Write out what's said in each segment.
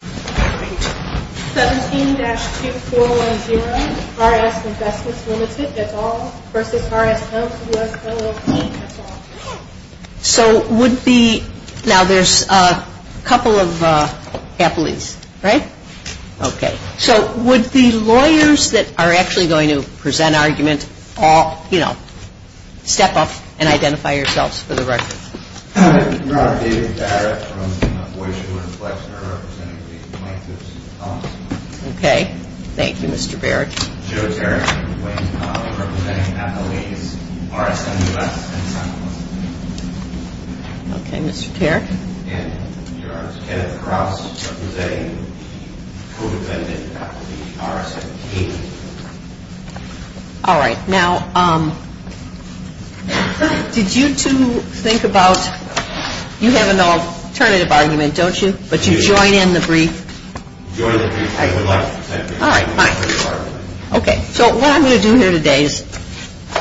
17-2410 RS Investments Limited, that's all, versus RSM US LLP, that's all. So would the, now there's a couple of haplies, right? So would the lawyers that are actually going to present argument all, you know, step up and identify yourselves for the record. Okay, thank you Mr. Barrett. Okay, Mr. Tarek. All right, now did you two think about, you have an alternative argument, don't you? But you join in the brief. All right, fine. Okay, so what I'm going to do here today is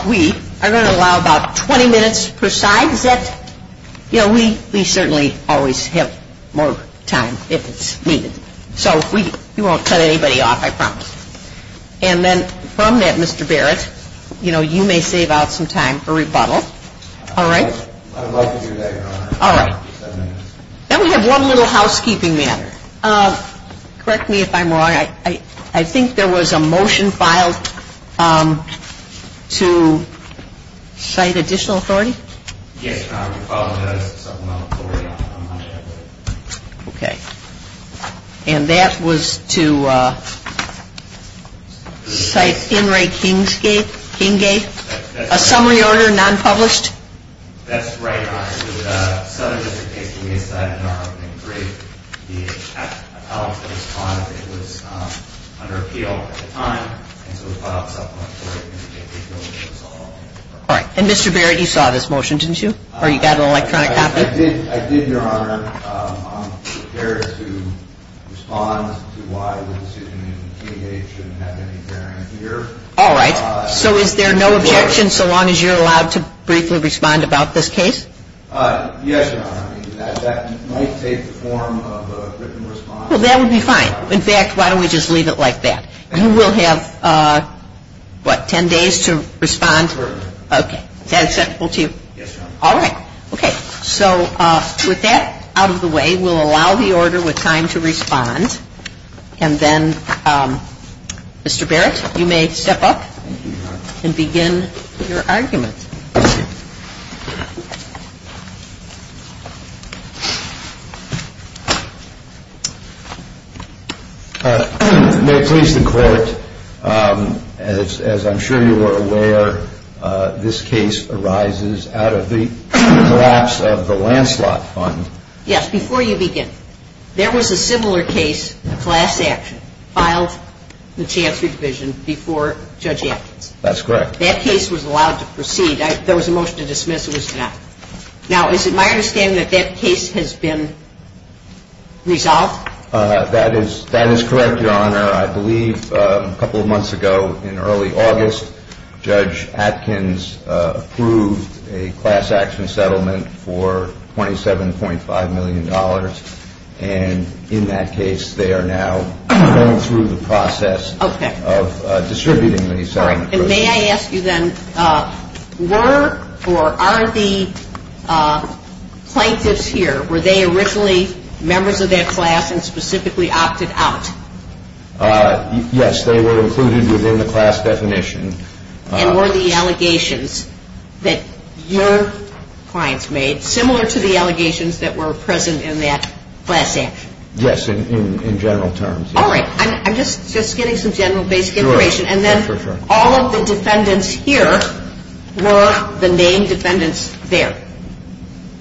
we are going to allow about 20 minutes per side. Is that, you know, we certainly always have more time if it's needed. So we won't cut anybody off, I promise. And then from that, Mr. Barrett, you know, you may save out some time for rebuttal. All right? I would like to do that, Your Honor. All right. Then we have one little housekeeping matter. Correct me if I'm wrong. Your Honor, I think there was a motion filed to cite additional authority? Yes, Your Honor. We filed a notice of supplemental authority. Okay. And that was to cite Henry Kinggate? A summary order, non-published? That's right, Your Honor. All right. And Mr. Barrett, you saw this motion, didn't you? Or you got an electronic copy? I did, Your Honor. I'm prepared to respond to why the decision in Kinggate shouldn't have any bearing here. All right. So is there no objection so long as you're allowed to briefly respond about this case? Yes, Your Honor. That might take the form of a written response. Well, that would be fine. In fact, why don't we just leave it like that? You will have, what, 10 days to respond? Yes, Your Honor. Okay. Is that acceptable to you? Yes, Your Honor. All right. Okay. So with that out of the way, we'll allow the order with time to respond. And then, Mr. Barrett, you may step up and begin your argument. May it please the Court, as I'm sure you are aware, this case arises out of the collapse of the Lancelot Fund. Yes. Before you begin, there was a similar case, a class action, filed in the Chancery Division before Judge Atkins. That's correct. That case was allowed to proceed. There was a motion to dismiss. It was not. Now, is it my understanding that that case has been resolved? That is correct, Your Honor. I believe a couple of months ago, in early August, Judge Atkins approved a class action settlement for $27.5 million. And in that case, they are now going through the process of distributing the settlement. And may I ask you then, were or are the plaintiffs here, were they originally members of that class and specifically opted out? Yes. They were included within the class definition. And were the allegations that your clients made similar to the allegations that were present in that class action? Yes, in general terms. All right. I'm just getting some general basic information. And then all of the defendants here were the main defendants there.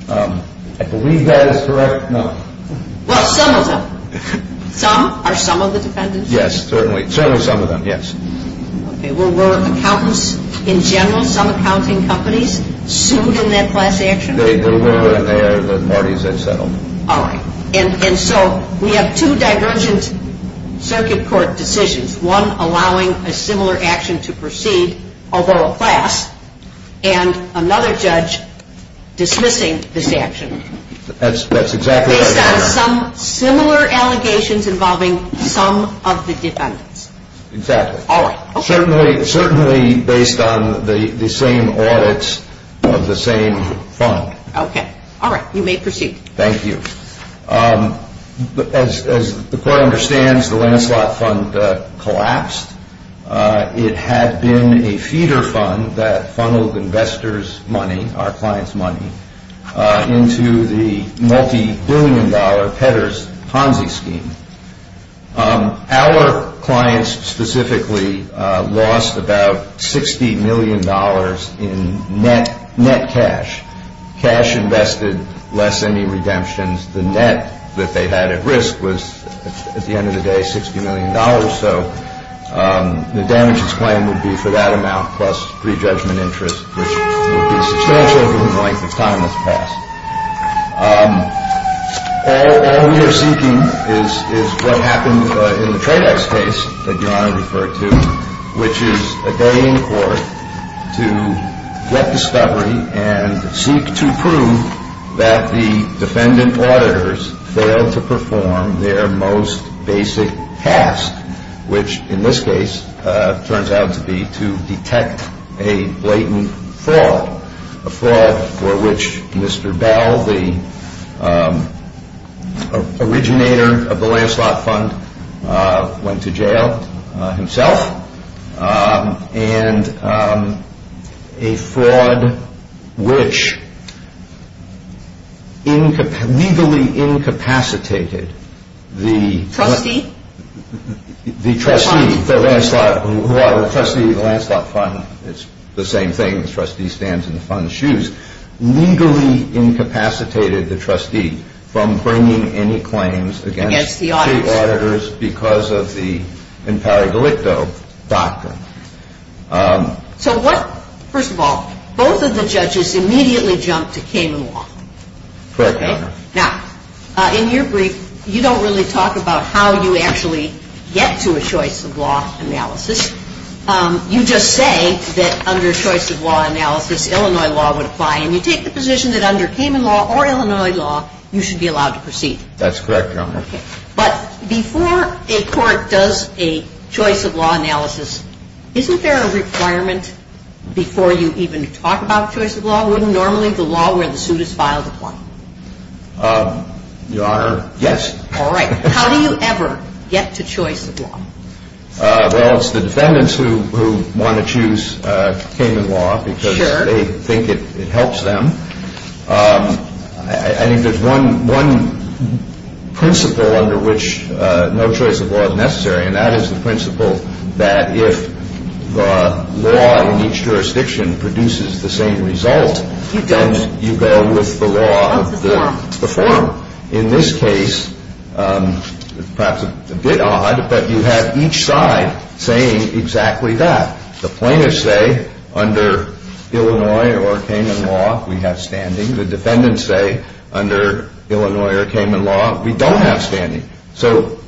I believe that is correct. No. Well, some of them. Some? Are some of the defendants? Yes, certainly. Certainly some of them, yes. Okay. Were accountants in general, some accounting companies, sued in that class action? They were, and they are the parties that settled. All right. And so we have two divergent circuit court decisions. One allowing a similar action to proceed, although a class, and another judge dismissing this action. That's exactly right. Based on some similar allegations involving some of the defendants. Exactly. All right. Certainly based on the same audits of the same fund. Okay. All right. You may proceed. Thank you. As the court understands, the Lancelot Fund collapsed. It had been a feeder fund that funneled investors' money, our clients' money, into the multi-billion dollar Petters Ponzi scheme. Our clients specifically lost about $60 million in net cash. Cash invested less than any redemptions. The net that they had at risk was, at the end of the day, $60 million. So the damages claim would be for that amount plus prejudgment interest, which would be substantial over the length of time that's passed. All we are seeking is what happened in the Tradex case that Your Honor referred to, which is a day in court to get discovery and seek to prove that the defendant auditors failed to perform their most basic task, which in this case turns out to be to detect a blatant fraud, a fraud for which Mr. Bell, the originator of the Lancelot Fund, went to jail himself, and a fraud which legally incapacitated the trustee of the Lancelot Fund. It's the same thing. The trustee stands in the fund's shoes. So what, first of all, both of the judges immediately jumped to Cayman Law. Correct, Your Honor. Now, in your brief, you don't really talk about how you actually get to a choice of law analysis. You just say that under choice of law analysis, Illinois law would apply to all cases. And you take the position that under Cayman Law or Illinois law, you should be allowed to proceed. That's correct, Your Honor. Okay. But before a court does a choice of law analysis, isn't there a requirement before you even talk about choice of law? Wouldn't normally the law where the suit is filed apply? Your Honor, yes. All right. How do you ever get to choice of law? Well, it's the defendants who want to choose Cayman Law because they think it helps them. I think there's one principle under which no choice of law is necessary, and that is the principle that if the law in each jurisdiction produces the same result, then you go with the law of the form. In this case, perhaps a bit odd, but you have each side saying exactly that. The plaintiffs say under Illinois or Cayman Law, we have standing. The defendants say under Illinois or Cayman Law, we don't have standing. So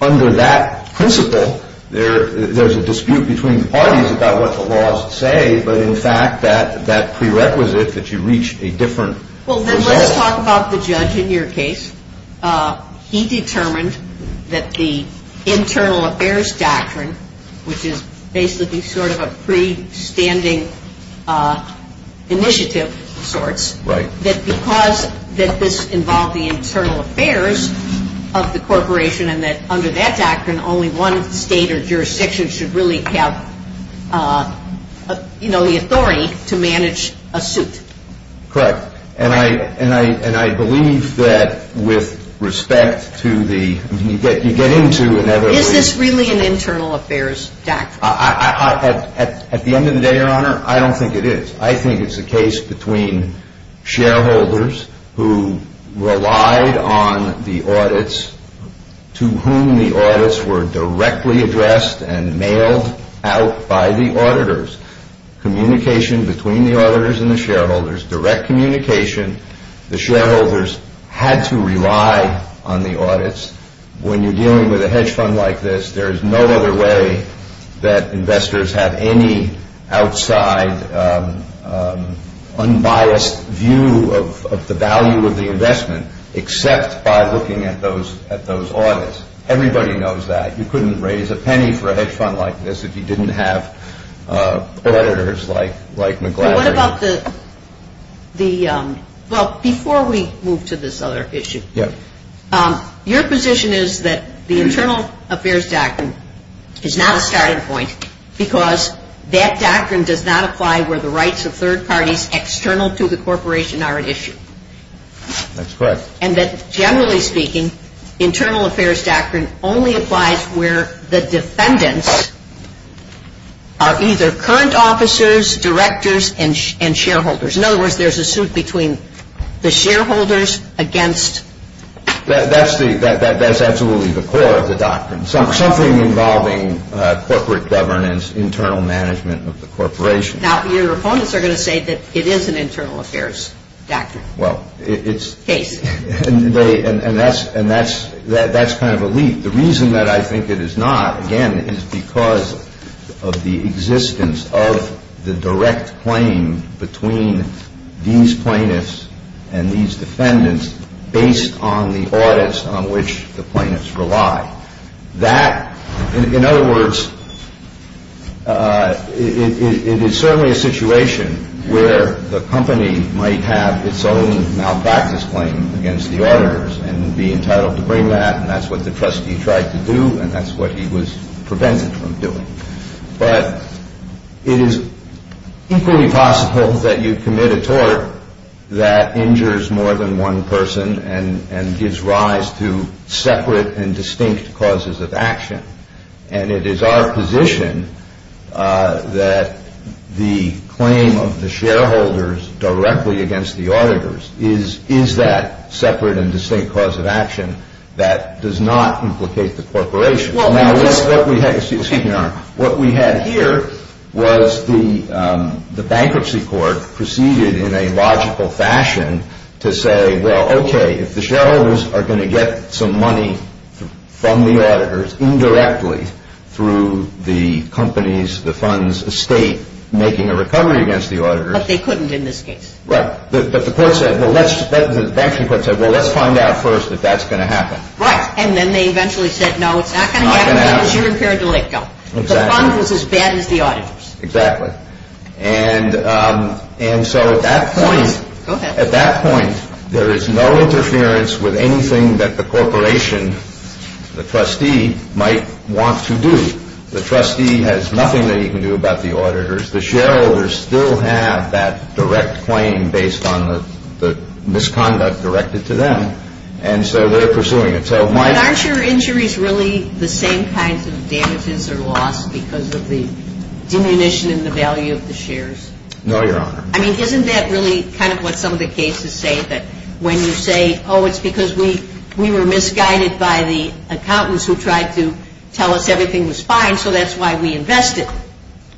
under that principle, there's a dispute between the parties about what the laws say, but in fact that prerequisite that you reach a different result. Well, then let's talk about the judge in your case. He determined that the Internal Affairs Doctrine, which is basically sort of a pre-standing initiative of sorts, that because this involved the internal affairs of the corporation and that under that doctrine only one state or jurisdiction should really have the authority to manage a suit. Correct. And I believe that with respect to the – you get into another – Is this really an Internal Affairs Doctrine? At the end of the day, Your Honor, I don't think it is. I think it's a case between shareholders who relied on the audits to whom the audits were directly addressed and mailed out by the auditors. Communication between the auditors and the shareholders, direct communication. The shareholders had to rely on the audits. When you're dealing with a hedge fund like this, there is no other way that investors have any outside unbiased view of the value of the investment except by looking at those audits. Everybody knows that. You couldn't raise a penny for a hedge fund like this if you didn't have auditors like McLaughlin. What about the – well, before we move to this other issue, your position is that the Internal Affairs Doctrine is not a starting point because that doctrine does not apply where the rights of third parties external to the corporation are at issue. That's correct. And that generally speaking, Internal Affairs Doctrine only applies where the defendants are either current officers, directors, and shareholders. In other words, there's a suit between the shareholders against – That's absolutely the core of the doctrine, something involving corporate governance, internal management of the corporation. Now, your opponents are going to say that it is an Internal Affairs Doctrine. Well, it's – And that's kind of a leap. The reason that I think it is not, again, is because of the existence of the direct claim between these plaintiffs and these defendants based on the audits on which the plaintiffs rely. That – in other words, it is certainly a situation where the company might have its own malpractice claim against the auditors and be entitled to bring that, and that's what the trustee tried to do, and that's what he was prevented from doing. But it is equally possible that you commit a tort that injures more than one person and gives rise to separate and distinct causes of action. And it is our position that the claim of the shareholders directly against the auditors is that separate and distinct cause of action that does not implicate the corporation. Well, this – Excuse me, Your Honor. What we had here was the bankruptcy court proceeded in a logical fashion to say, well, okay, if the shareholders are going to get some money from the auditors indirectly through the company's – the fund's estate making a recovery against the auditors – But they couldn't in this case. Right. But the court said, well, let's – the bankruptcy court said, well, let's find out first if that's going to happen. Right. And then they eventually said, no, it's not going to happen because you're impaired to let go. Exactly. The fund was as bad as the auditors. Exactly. And so at that point – Go ahead. At that point, there is no interference with anything that the corporation, the trustee, might want to do. The trustee has nothing that he can do about the auditors. The shareholders still have that direct claim based on the misconduct directed to them. And so they're pursuing it. So my – But aren't your injuries really the same kinds of damages or loss because of the diminution in the value of the shares? No, Your Honor. I mean, isn't that really kind of what some of the cases say, that when you say, oh, it's because we were misguided by the accountants who tried to tell us everything was fine, so that's why we invested.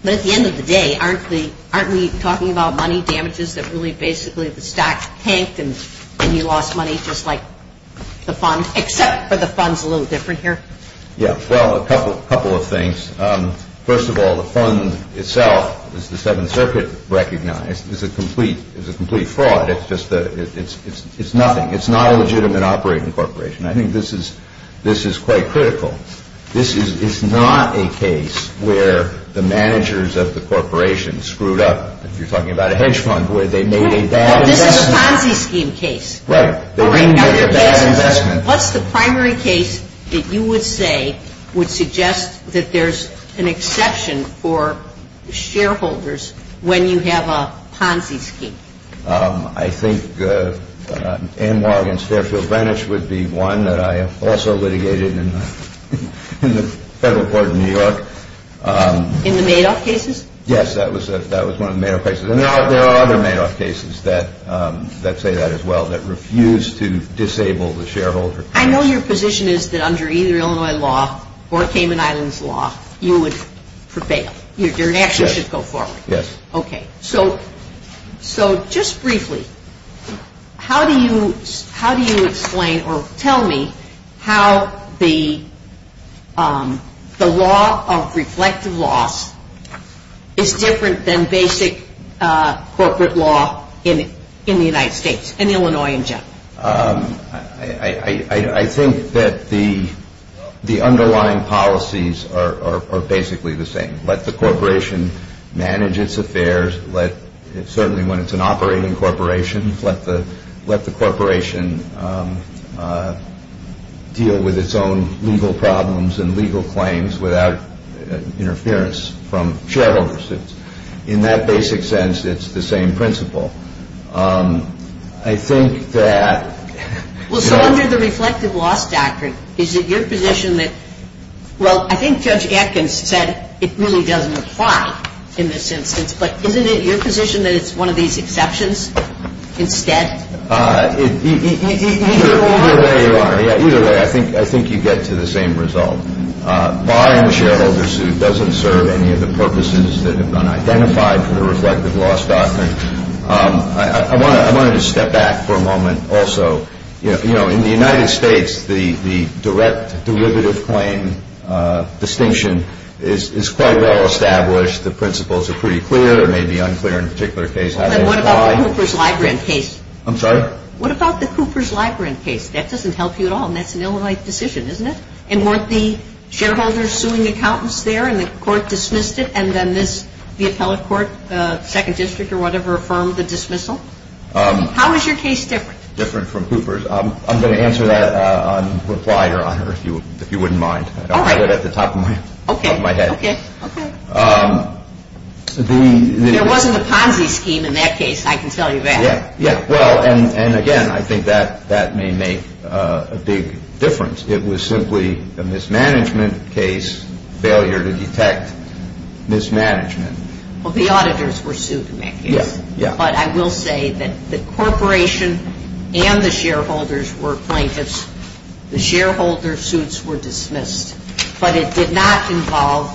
But at the end of the day, aren't we talking about money damages that really basically the stock tanked and you lost money just like the fund, except for the fund's a little different here? Yeah. Well, a couple of things. First of all, the fund itself, as the Seventh Circuit recognized, is a complete fraud. It's nothing. It's not a legitimate operating corporation. I think this is quite critical. This is not a case where the managers of the corporation screwed up, if you're talking about a hedge fund, where they made a bad investment. This is a Ponzi scheme case. Right. What's the primary case that you would say would suggest that there's an exception for shareholders when you have a Ponzi scheme? I think Anwar against Fairfield Greenwich would be one that I also litigated in the Federal Court of New York. In the Madoff cases? Yes, that was one of the Madoff cases. There are other Madoff cases that say that as well, that refuse to disable the shareholder. I know your position is that under either Illinois law or Cayman Islands law, you would prevail. Your action should go forward. Yes. Okay. So just briefly, how do you explain or tell me how the law of reflective loss is different than basic corporate law in the United States, in Illinois in general? I think that the underlying policies are basically the same. Let the corporation manage its affairs. Certainly when it's an operating corporation, let the corporation deal with its own legal problems and legal claims without interference from shareholders. In that basic sense, it's the same principle. I think that- Well, so under the reflective loss doctrine, is it your position that- in this instance, but isn't it your position that it's one of these exceptions instead? Either way, Your Honor. Either way, I think you get to the same result. Buying the shareholder suit doesn't serve any of the purposes that have been identified for the reflective loss doctrine. I wanted to step back for a moment also. You know, in the United States, the direct derivative claim distinction is quite well established. The principles are pretty clear. It may be unclear in a particular case how they apply. But what about the Coopers-Librand case? I'm sorry? What about the Coopers-Librand case? That doesn't help you at all, and that's an Illinois decision, isn't it? And weren't the shareholders suing accountants there, and the court dismissed it, and then the appellate court, second district or whatever, affirmed the dismissal? How is your case different? Different from Coopers. I'm going to answer that on reply, Your Honor, if you wouldn't mind. All right. I have it at the top of my head. Okay. Okay. Okay. There wasn't a Ponzi scheme in that case, I can tell you that. Yeah. Well, and again, I think that may make a big difference. It was simply a mismanagement case, failure to detect mismanagement. Well, the auditors were sued in that case. Yeah. Yeah. But I will say that the corporation and the shareholders were plaintiffs. The shareholder suits were dismissed, but it did not involve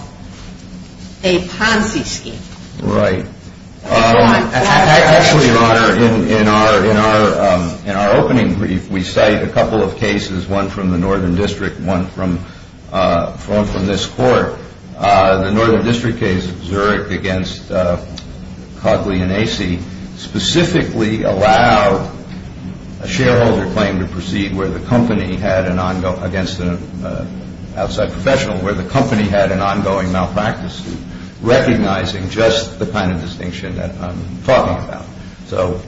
a Ponzi scheme. Right. Actually, Your Honor, in our opening brief, we cite a couple of cases, one from the northern district, one from this court. The northern district case of Zurich against Cogley and Acey specifically allowed a shareholder claim to proceed against an outside professional where the company had an ongoing malpractice suit, recognizing just the kind of distinction that I'm talking about. So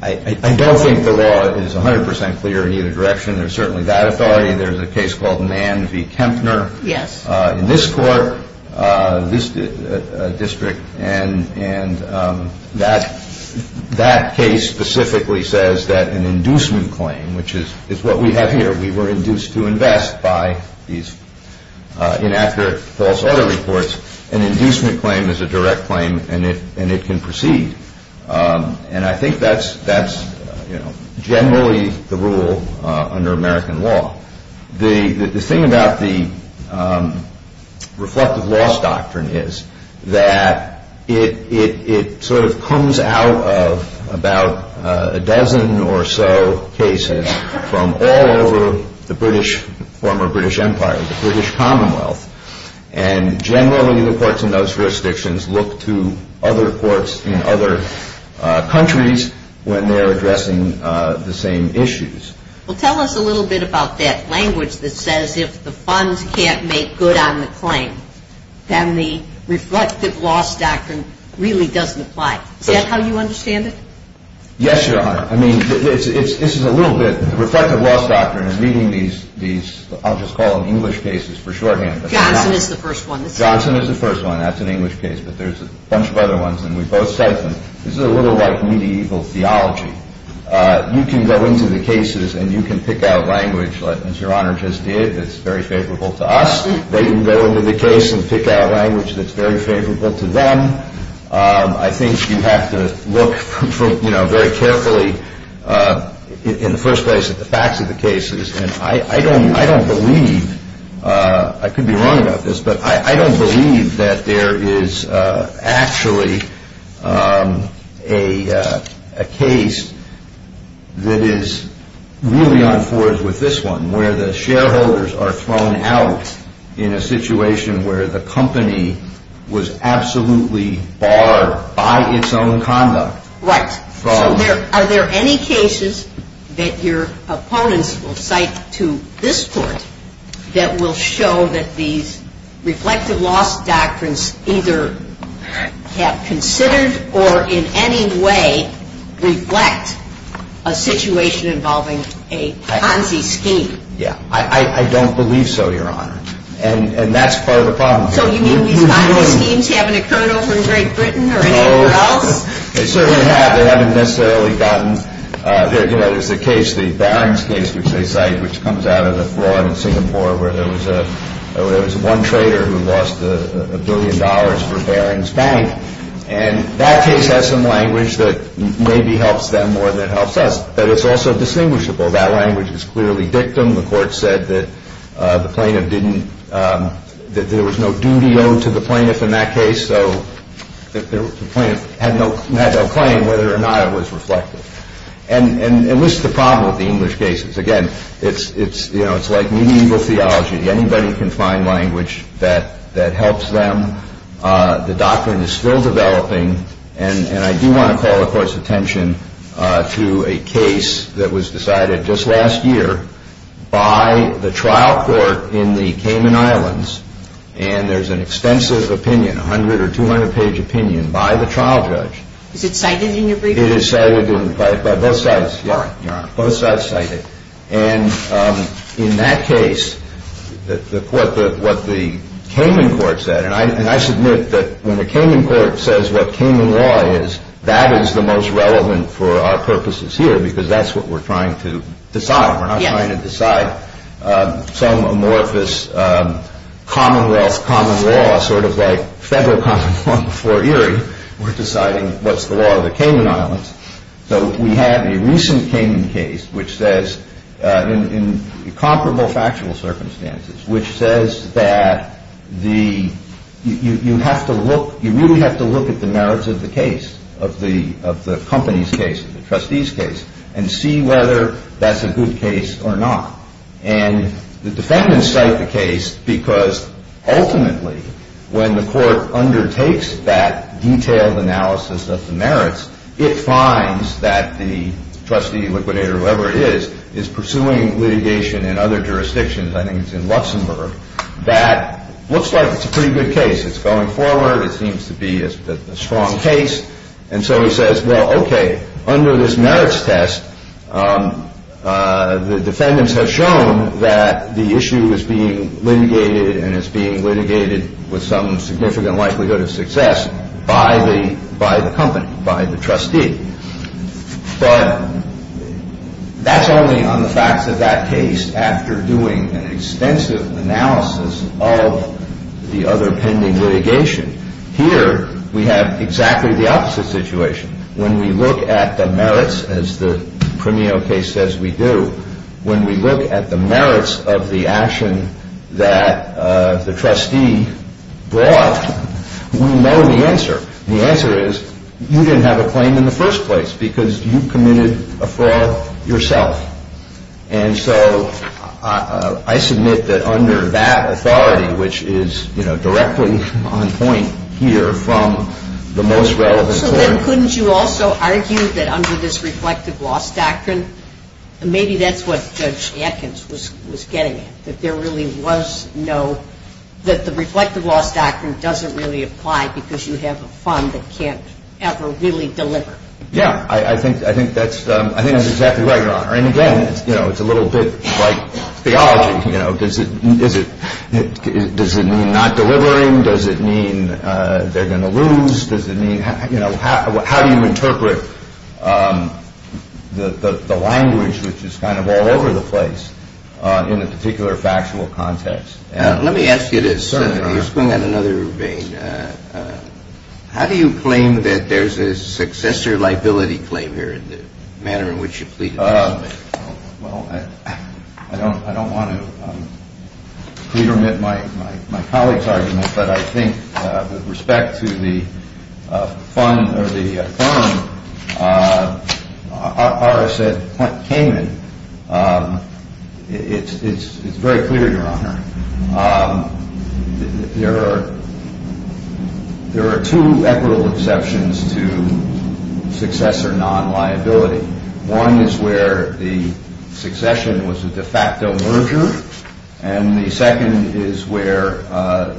I don't think the law is 100% clear in either direction. There's certainly that authority. There's a case called Mann v. Kempner. Yes. In this court, this district, and that case specifically says that an inducement claim, which is what we have here, we were induced to invest by these inaccurate false audit reports, an inducement claim is a direct claim and it can proceed. And I think that's generally the rule under American law. The thing about the reflective loss doctrine is that it sort of comes out of about a dozen or so cases from all over the British, former British Empire, the British Commonwealth, and generally the courts in those jurisdictions look to other courts in other countries when they're addressing the same issues. Well, tell us a little bit about that language that says if the funds can't make good on the claim, then the reflective loss doctrine really doesn't apply. Is that how you understand it? Yes, Your Honor. I mean, this is a little bit, the reflective loss doctrine is meeting these, I'll just call them English cases for shorthand. Johnson is the first one. Johnson is the first one. That's an English case, but there's a bunch of other ones, and we've both said them. This is a little like medieval theology. You can go into the cases and you can pick out language, as Your Honor just did, that's very favorable to us. They can go into the case and pick out language that's very favorable to them. I think you have to look very carefully in the first place at the facts of the cases. And I don't believe, I could be wrong about this, but I don't believe that there is actually a case that is really unforged with this one, where the shareholders are thrown out in a situation where the company was absolutely barred by its own conduct. Right. So are there any cases that your opponents will cite to this Court that will show that these reflective loss doctrines either have considered or in any way reflect a situation involving a Ponzi scheme? Yeah. I don't believe so, Your Honor, and that's part of the problem. So you mean these Ponzi schemes haven't occurred over in Great Britain or anywhere else? They certainly have. They haven't necessarily gotten there. You know, there's a case, the Barings case, which they cite, which comes out of the fraud in Singapore where there was one trader who lost a billion dollars for Barings Bank. And that case has some language that maybe helps them more than it helps us, but it's also distinguishable. That language is clearly dictum. The Court said that the plaintiff didn't, that there was no duty owed to the plaintiff in that case, and so the plaintiff had no claim whether or not it was reflective. And this is the problem with the English cases. Again, it's like medieval theology. Anybody can find language that helps them. The doctrine is still developing, and I do want to call the Court's attention to a case that was decided just last year by the trial court in the Cayman Islands, and there's an extensive opinion, 100- or 200-page opinion by the trial judge. Is it cited in your brief? It is cited by both sides, Your Honor. Both sides cite it. And in that case, what the Cayman court said, and I submit that when the Cayman court says what Cayman law is, that is the most relevant for our purposes here because that's what we're trying to decide. We're not trying to decide some amorphous commonwealth common law, sort of like federal common law before Erie. We're deciding what's the law of the Cayman Islands. So we have a recent Cayman case which says, in comparable factual circumstances, which says that the, you have to look, you really have to look at the merits of the case, of the company's case, and see whether that's a good case or not. And the defendants cite the case because, ultimately, when the court undertakes that detailed analysis of the merits, it finds that the trustee, liquidator, whoever it is, is pursuing litigation in other jurisdictions. I think it's in Luxembourg. That looks like it's a pretty good case. It's going forward. It seems to be a strong case. And so he says, well, okay, under this merits test, the defendants have shown that the issue is being litigated and is being litigated with some significant likelihood of success by the company, by the trustee. But that's only on the facts of that case after doing an extensive analysis of the other pending litigation. Here we have exactly the opposite situation. When we look at the merits, as the Premio case says we do, when we look at the merits of the action that the trustee brought, we know the answer. The answer is you didn't have a claim in the first place because you committed a fraud yourself. And so I submit that under that authority, which is directly on point here from the most relevant theory. So then couldn't you also argue that under this reflective loss doctrine, maybe that's what Judge Atkins was getting at, that there really was no, that the reflective loss doctrine doesn't really apply because you have a fund that can't ever really deliver? Yeah. I think that's exactly right, Your Honor. And again, it's a little bit like theology. Does it mean not delivering? Does it mean they're going to lose? How do you interpret the language, which is kind of all over the place in a particular factual context? Let me ask you this. You're speaking on another vein. How do you claim that there's a successor liability claim here in the manner in which you pleaded guilty? Well, I don't want to pre-permit my colleague's argument, but I think with respect to the fund or the firm, ours said what came in. It's very clear, Your Honor. There are two equitable exceptions to successor non-liability. One is where the succession was a de facto merger and the second is where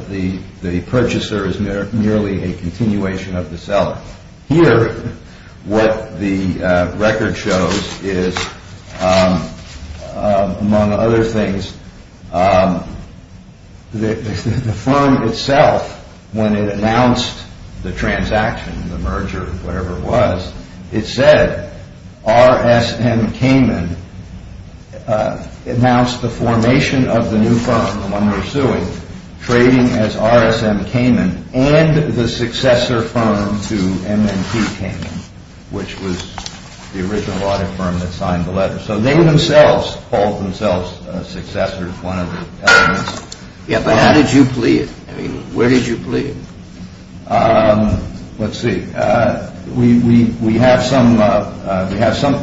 the purchaser is merely a continuation of the seller. Here, what the record shows is, among other things, the firm itself, when it announced the transaction, the merger, it said R.S.M. Cayman announced the formation of the new firm, the one we're suing, trading as R.S.M. Cayman and the successor firm to M&T Cayman, which was the original audit firm that signed the letter. So they themselves called themselves successors, one of the elements. But how did you plead? Where did you plead? Let's see. We have some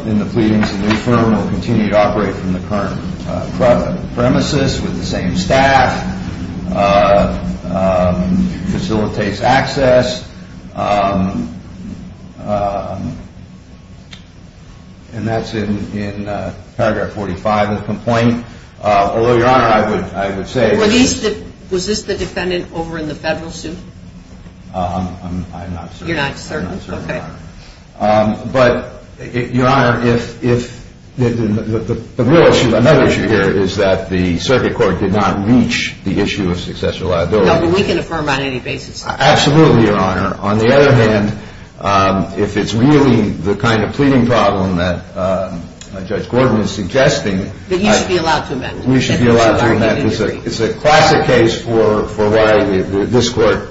in the pleadings that the firm will continue to operate from the current premises with the same staff, facilitates access, and that's in paragraph 45 of the complaint. Although, Your Honor, I would say that Was this the defendant over in the federal suit? I'm not certain. You're not certain? Okay. But, Your Honor, another issue here is that the circuit court did not reach the issue of successor liability. No, but we can affirm on any basis. Absolutely, Your Honor. On the other hand, if it's really the kind of pleading problem that Judge Gordon is suggesting, Then you should be allowed to amend it. We should be allowed to amend it. It's a classic case for why this court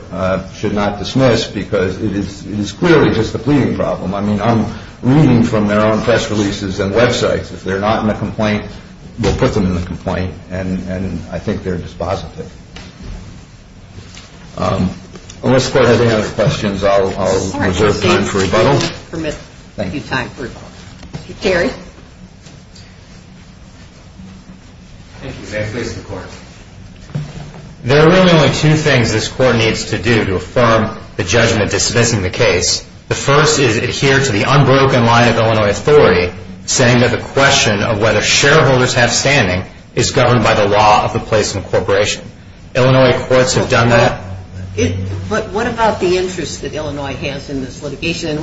should not dismiss because it is clearly just a pleading problem. I mean, I'm reading from their own press releases and websites. If they're not in the complaint, we'll put them in the complaint and I think they're dispositive. Unless the court has any other questions, I'll reserve time for rebuttal. All right. Thank you. We'll give you time for rebuttal. Jerry? Thank you. May I please have the court? There are really only two things this court needs to do to affirm the judgment dismissing the case. The first is adhere to the unbroken line of Illinois authority saying that the question of whether shareholders have standing is governed by the law of the placement corporation. Illinois courts have done that. But what about the interest that Illinois has in this litigation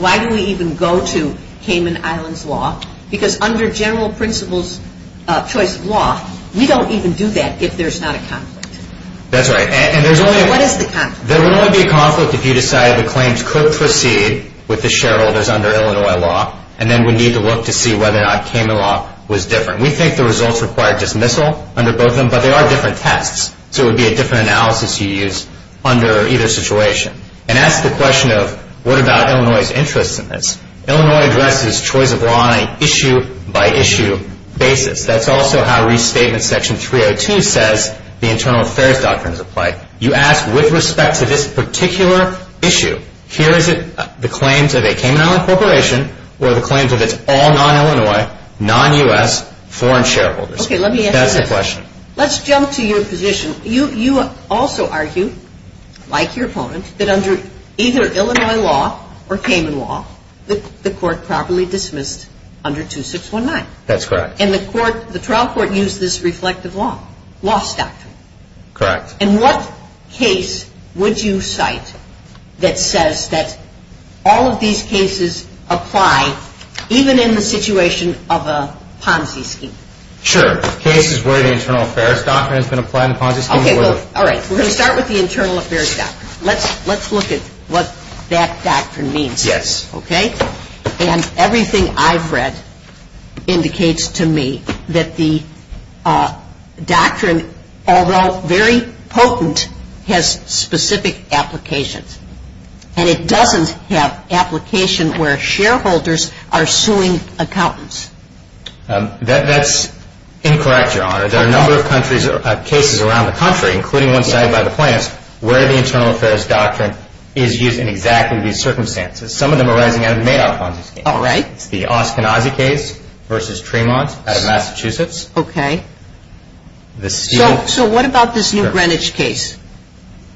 Because under general principles choice of law, we don't even do that if there's not a conflict. That's right. What is the conflict? There would only be a conflict if you decided the claims could proceed with the shareholders under Illinois law and then we need to look to see whether or not Cayman Law was different. We think the results require dismissal under both of them, but they are different tests. So it would be a different analysis you use under either situation. And that's the question of what about Illinois' interest in this. Illinois addresses choice of law on an issue-by-issue basis. That's also how Restatement Section 302 says the Internal Affairs Doctrine is applied. You ask with respect to this particular issue, here is it the claims of a Cayman Island corporation or the claims of its all non-Illinois, non-U.S. foreign shareholders. Okay, let me ask you this. That's the question. Let's jump to your position. You also argue, like your opponent, that under either Illinois law or Cayman law, the court properly dismissed under 2619. That's correct. And the trial court used this reflective law, loss doctrine. Correct. And what case would you cite that says that all of these cases apply, even in the situation of a Ponzi scheme? Sure. Cases where the Internal Affairs Doctrine has been applied in the Ponzi scheme. All right. We're going to start with the Internal Affairs Doctrine. Let's look at what that doctrine means. Yes. Okay? And everything I've read indicates to me that the doctrine, although very potent, has specific applications. And it doesn't have application where shareholders are suing accountants. That's incorrect, Your Honor. There are a number of cases around the country, including one cited by the plaintiffs, where the Internal Affairs Doctrine is used in exactly these circumstances. Some of them are arising out of the Madoff Ponzi scheme. All right. It's the Oskanazi case versus Tremont out of Massachusetts. Okay. So what about this new Greenwich case,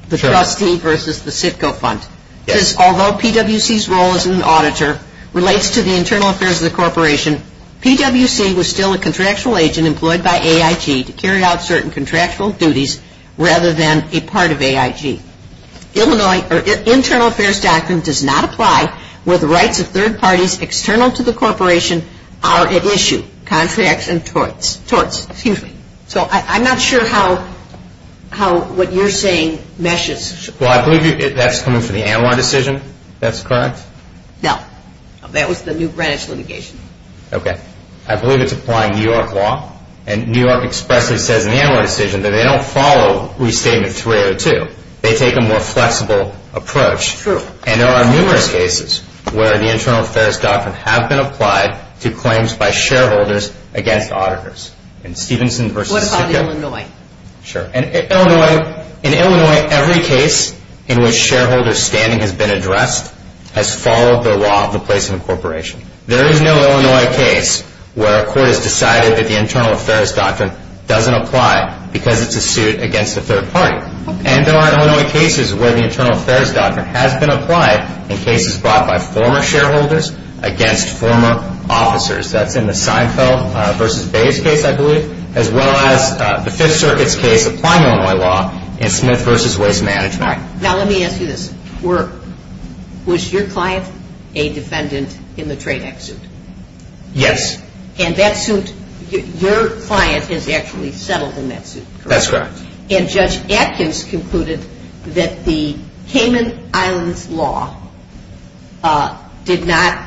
the trustee versus the CITCO fund? Yes. Because although PWC's role as an auditor relates to the internal affairs of the corporation, PWC was still a contractual agent employed by AIG to carry out certain contractual duties rather than a part of AIG. Illinois Internal Affairs Doctrine does not apply where the rights of third parties external to the corporation are at issue. Contracts and torts. Excuse me. So I'm not sure how what you're saying meshes. Well, I believe that's coming from the Anwar decision. That's correct? No. That was the new Greenwich litigation. Okay. I believe it's applying New York law. And New York expressly says in the Anwar decision that they don't follow Restatement 302. They take a more flexible approach. True. And there are numerous cases where the Internal Affairs Doctrine have been applied to claims by shareholders against auditors. In Stevenson versus CITCO. What about Illinois? Sure. In Illinois, every case in which shareholder standing has been addressed has followed the law of the place of incorporation. There is no Illinois case where a court has decided that the Internal Affairs Doctrine doesn't apply because it's a suit against a third party. And there are Illinois cases where the Internal Affairs Doctrine has been applied in cases brought by former shareholders against former officers. That's in the Seinfeld versus Bayes case, I believe, as well as the Fifth Circuit's case applying Illinois law in Smith versus Waste Management. Now let me ask you this. Was your client a defendant in the Trade Act suit? Yes. And that suit, your client is actually settled in that suit, correct? That's correct. And Judge Atkins concluded that the Cayman Islands law did not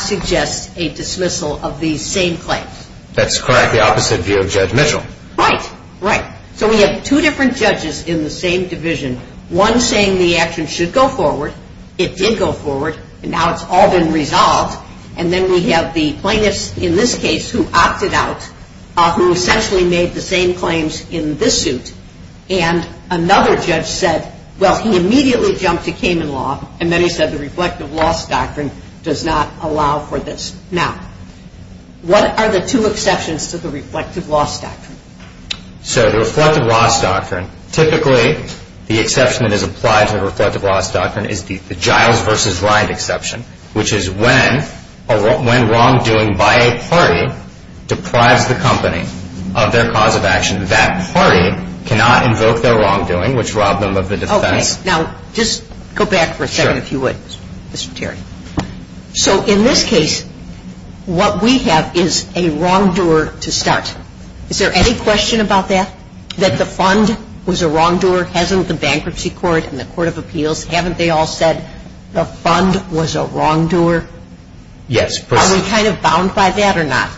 suggest a dismissal of these same claims. That's correct. The opposite view of Judge Mitchell. Right. Right. So we have two different judges in the same division, one saying the action should go forward, it did go forward, and now it's all been resolved. And then we have the plaintiffs in this case who opted out, who essentially made the same claims in this suit. And another judge said, well, he immediately jumped to Cayman law, and then he said the Reflective Loss Doctrine does not allow for this. Now, what are the two exceptions to the Reflective Loss Doctrine? So the Reflective Loss Doctrine, typically the exception that is applied to the Reflective Loss Doctrine is the Giles v. Ride exception, which is when wrongdoing by a party deprives the company of their cause of action. That party cannot invoke their wrongdoing, which robbed them of the defense. Okay. Now, just go back for a second if you would, Mr. Terry. Sure. So in this case, what we have is a wrongdoer to start. Is there any question about that, that the fund was a wrongdoer? Hasn't the Bankruptcy Court and the Court of Appeals, haven't they all said the fund was a wrongdoer? Yes. Are we kind of bound by that or not?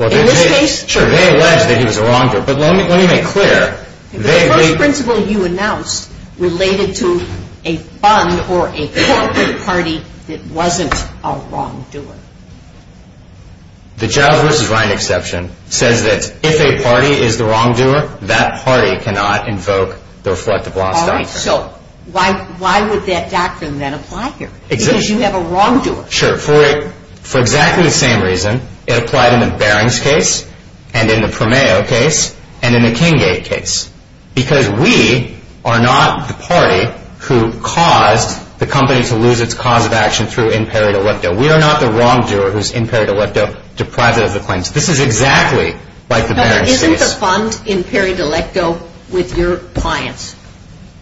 In this case? Sure, they allege that he was a wrongdoer, but let me make clear. The first principle you announced related to a fund or a corporate party that wasn't a wrongdoer. The Giles v. Ride exception says that if a party is the wrongdoer, that party cannot invoke the Reflective Loss Doctrine. All right. So why would that doctrine then apply here? Because you have a wrongdoer. Sure. For exactly the same reason, it applied in the Barings case, and in the Promeo case, and in the Kinggate case. Because we are not the party who caused the company to lose its cause of action through impaired ellipto. We are not the wrongdoer who is impaired ellipto, deprived of the claims. This is exactly like the Barings case. But isn't the fund impaired ellipto with your clients?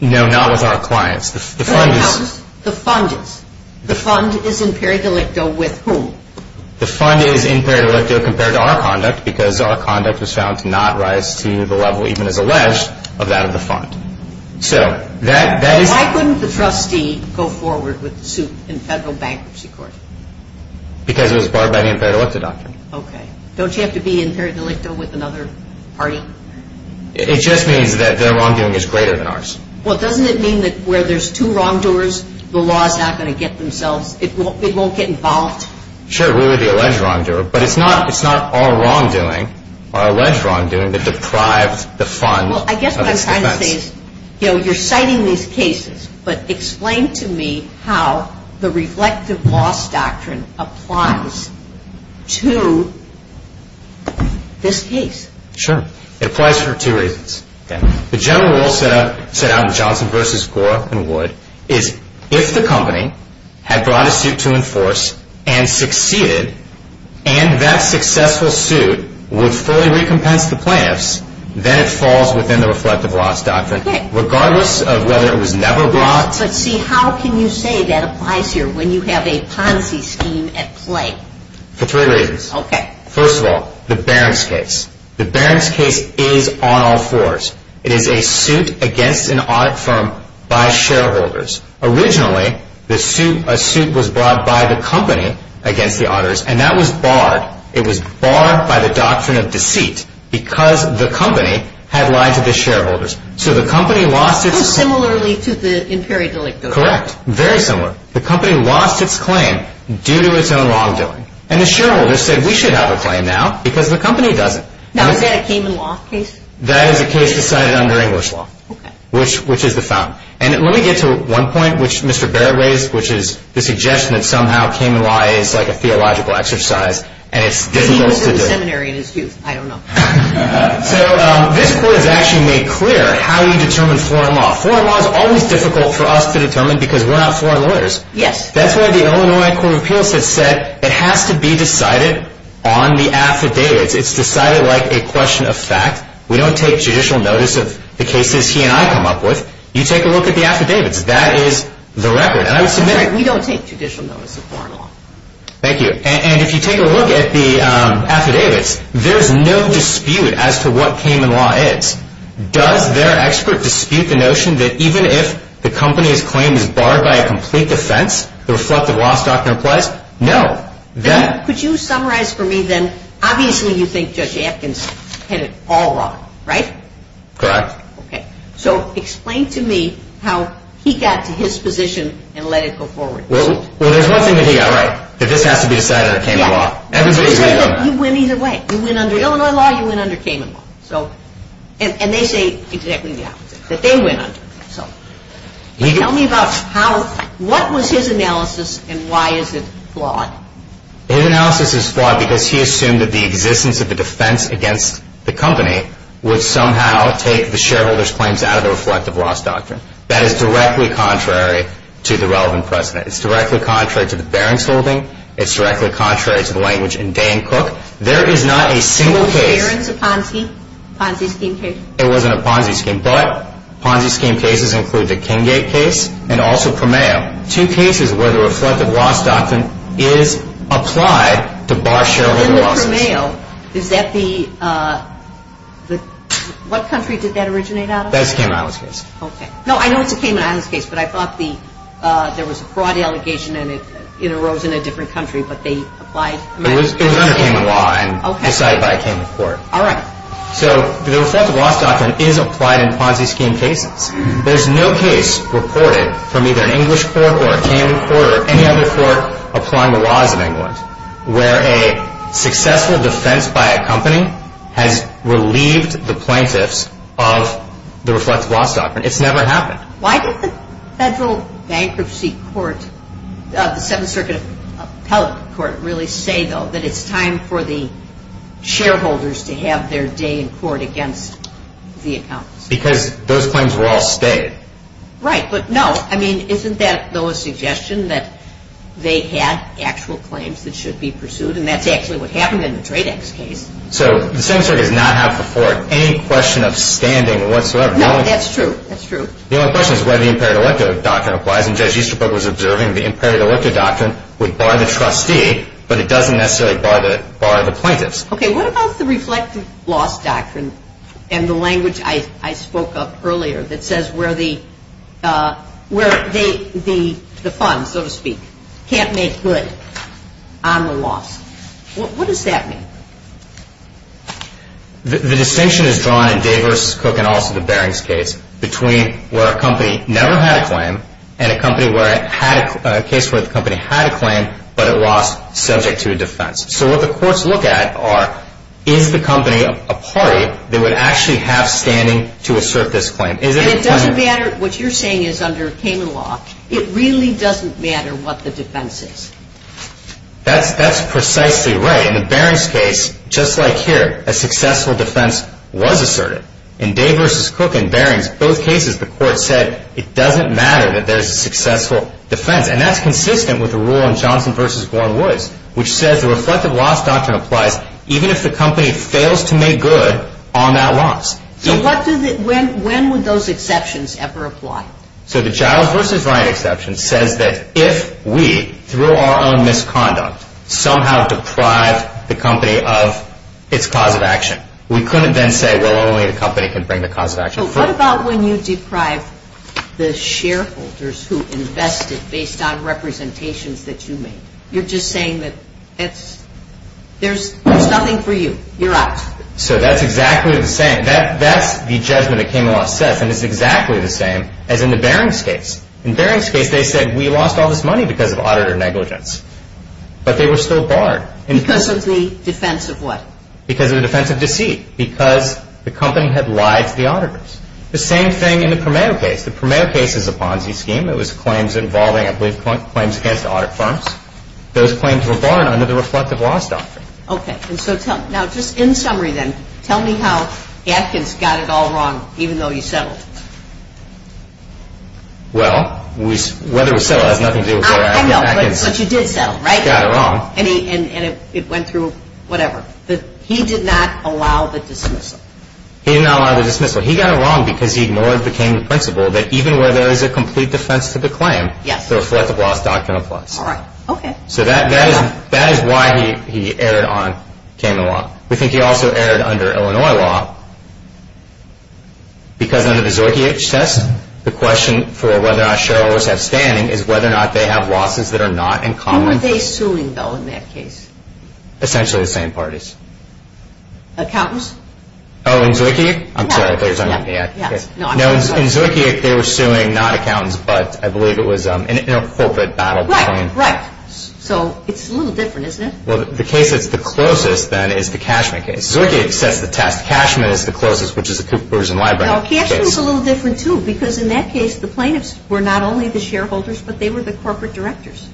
No, not with our clients. The fund is. The fund is. The fund is impaired ellipto with whom? The fund is impaired ellipto compared to our conduct because our conduct was found to not rise to the level, even as alleged, of that of the fund. Why couldn't the trustee go forward with the suit in federal bankruptcy court? Because it was barred by the impaired ellipto doctrine. Okay. Don't you have to be impaired ellipto with another party? It just means that their wrongdoing is greater than ours. Well, doesn't it mean that where there's two wrongdoers, the law is not going to get themselves, it won't get involved? Sure, we were the alleged wrongdoer. But it's not our wrongdoing, our alleged wrongdoing, that deprived the fund of its defense. You're citing these cases, but explain to me how the reflective loss doctrine applies to this case. Sure. It applies for two reasons. The general rule set out in Johnson v. Gore and Wood is if the company had brought a suit to enforce and succeeded, and that successful suit would fully recompense the plaintiffs, then it falls within the reflective loss doctrine. Okay. Regardless of whether it was never brought. But see, how can you say that applies here when you have a Ponzi scheme at play? For three reasons. Okay. First of all, the Barron's case. The Barron's case is on all fours. It is a suit against an audit firm by shareholders. Originally, a suit was brought by the company against the auditors, and that was barred. It was barred by the doctrine of deceit because the company had lied to the shareholders. So the company lost its claim. So similarly to the Imperial delicto. Correct. Very similar. The company lost its claim due to its own wrongdoing. And the shareholders said, we should have a claim now because the company doesn't. Now is that a Cayman Law case? That is a case decided under English law. Okay. Which is the fountain. And let me get to one point which Mr. Barrett raised, which is the suggestion that somehow Cayman Law is like a theological exercise. And it's difficult to do. He was in the seminary in his youth. I don't know. So this court has actually made clear how you determine foreign law. Foreign law is always difficult for us to determine because we're not foreign lawyers. Yes. That's why the Illinois Court of Appeals has said it has to be decided on the affidavits. It's decided like a question of fact. We don't take judicial notice of the cases he and I come up with. You take a look at the affidavits. That is the record. And I would submit it. We don't take judicial notice of foreign law. Thank you. And if you take a look at the affidavits, there's no dispute as to what Cayman Law is. Does their expert dispute the notion that even if the company's claim is barred by a complete defense, the reflective loss doctrine applies? No. Could you summarize for me then, obviously you think Judge Atkins had it all wrong, right? Correct. Okay. So explain to me how he got to his position and let it go forward. Well, there's one thing that he got right, that this has to be decided under Cayman Law. Everybody agrees on that. You say that you win either way. You win under Illinois law, you win under Cayman Law. And they say exactly the opposite, that they win under it. So tell me about what was his analysis and why is it flawed? His analysis is flawed because he assumed that the existence of the defense against the company would somehow take the shareholders' claims out of the reflective loss doctrine. That is directly contrary to the relevant precedent. It's directly contrary to the Barron's holding. It's directly contrary to the language in Day and Cook. There is not a single case. It wasn't Barron's or Ponzi? Ponzi scheme case? It wasn't a Ponzi scheme. But Ponzi scheme cases include the Kinggate case and also Promeo. Two cases where the reflective loss doctrine is applied to bar shareholder losses. And the Promeo, is that the, what country did that originate out of? That's a Cayman Islands case. Okay. No, I know it's a Cayman Islands case, but I thought there was a fraud allegation and it arose in a different country, but they applied. It was under Cayman Law and decided by a Cayman court. All right. So the reflective loss doctrine is applied in Ponzi scheme cases. There's no case reported from either an English court or a Cayman court or any other court applying the laws of England where a successful defense by a company has relieved the plaintiffs of the reflective loss doctrine. It's never happened. Why did the Federal Bankruptcy Court, the Seventh Circuit Appellate Court, really say, though, that it's time for the shareholders to have their day in court against the accountants? Because those claims were all stayed. Right. But, no, I mean, isn't that, though, a suggestion that they had actual claims that should be pursued? And that's actually what happened in the Tradex case. So the Seventh Circuit does not have before it any question of standing whatsoever. No, that's true. That's true. The only question is whether the imperative elective doctrine applies. And Judge Easterbrook was observing the imperative elective doctrine would bar the trustee, but it doesn't necessarily bar the plaintiffs. Okay. What about the reflective loss doctrine and the language I spoke of earlier that says where the funds, so to speak, can't make good on the loss? What does that mean? The distinction is drawn in Day v. Cook and also the Barings case between where a company never had a claim and a case where the company had a claim but it lost subject to a defense. So what the courts look at are, is the company a party that would actually have standing to assert this claim? And it doesn't matter what you're saying is under Cayman Law. It really doesn't matter what the defense is. That's precisely right. In the Barings case, just like here, a successful defense was asserted. In Day v. Cook and Barings, both cases the court said it doesn't matter that there's a successful defense. And that's consistent with the rule in Johnson v. Gorin-Woods, which says the reflective loss doctrine applies even if the company fails to make good on that loss. So when would those exceptions ever apply? So the Giles v. Wright exception says that if we, through our own misconduct, somehow deprived the company of its cause of action, we couldn't then say, well, only the company can bring the cause of action forward. So what about when you deprive the shareholders who invested based on representations that you made? You're just saying that there's nothing for you. You're out. So that's exactly the same. That's the judgment that Cayman Law sets, and it's exactly the same as in the Barings case. In Barings case, they said we lost all this money because of auditor negligence. But they were still barred. Because of the defense of what? Because of the defense of deceit, because the company had lied to the auditors. The same thing in the Promeo case. The Promeo case is a Ponzi scheme. It was claims involving, I believe, claims against audit firms. Those claims were barred under the reflective loss doctrine. Okay. Now, just in summary then, tell me how Atkins got it all wrong, even though you settled. Well, whether we settled has nothing to do with whether Atkins got it wrong. I know, but you did settle, right? He got it wrong. And it went through whatever. He did not allow the dismissal. He did not allow the dismissal. He got it wrong because he ignored the Cayman principle that even where there is a complete defense to the claim, the reflective loss doctrine applies. All right. Okay. So that is why he erred on Cayman Law. We think he also erred under Illinois law because under the Zorki-H test, the question for whether our shareholders have standing is whether or not they have losses that are not in common. Who were they suing, though, in that case? Essentially the same parties. Accountants? Oh, in Zorki-H? I'm sorry. I thought you were talking about me. No, in Zorki-H, they were suing not accountants, but I believe it was an inter-corporate battle. Right, right. So it's a little different, isn't it? Well, the case that's the closest, then, is the Cashman case. Zorki-H sets the test. Cashman is the closest, which is the Cooperson Library case. No, Cashman is a little different, too, because in that case, the plaintiffs were not only the shareholders, but they were the corporate directors.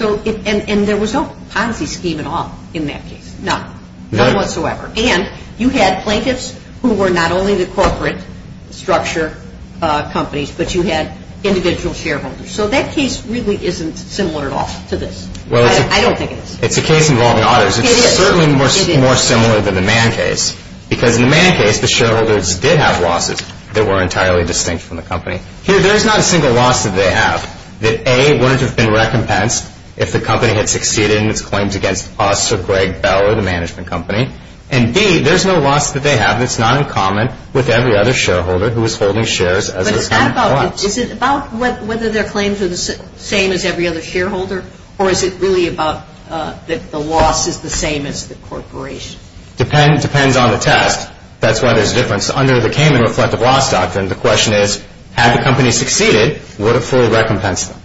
And there was no policy scheme at all in that case, none, none whatsoever. And you had plaintiffs who were not only the corporate structure companies, but you had individual shareholders. So that case really isn't similar at all to this. I don't think it is. It's a case involving others. It is. It's certainly more similar than the Mann case because in the Mann case, the shareholders did have losses that were entirely distinct from the company. Here, there is not a single loss that they have that, A, wouldn't have been recompensed if the company had succeeded in its claims against us or Greg Bell or the management company, and, B, there's no loss that they have that's not in common with every other shareholder who is holding shares as a company. But is it about whether their claims are the same as every other shareholder, or is it really about that the loss is the same as the corporation? Depends on the test. That's why there's a difference. Under the Cayman Reflective Loss Doctrine, the question is, had the company succeeded, would it fully recompense them?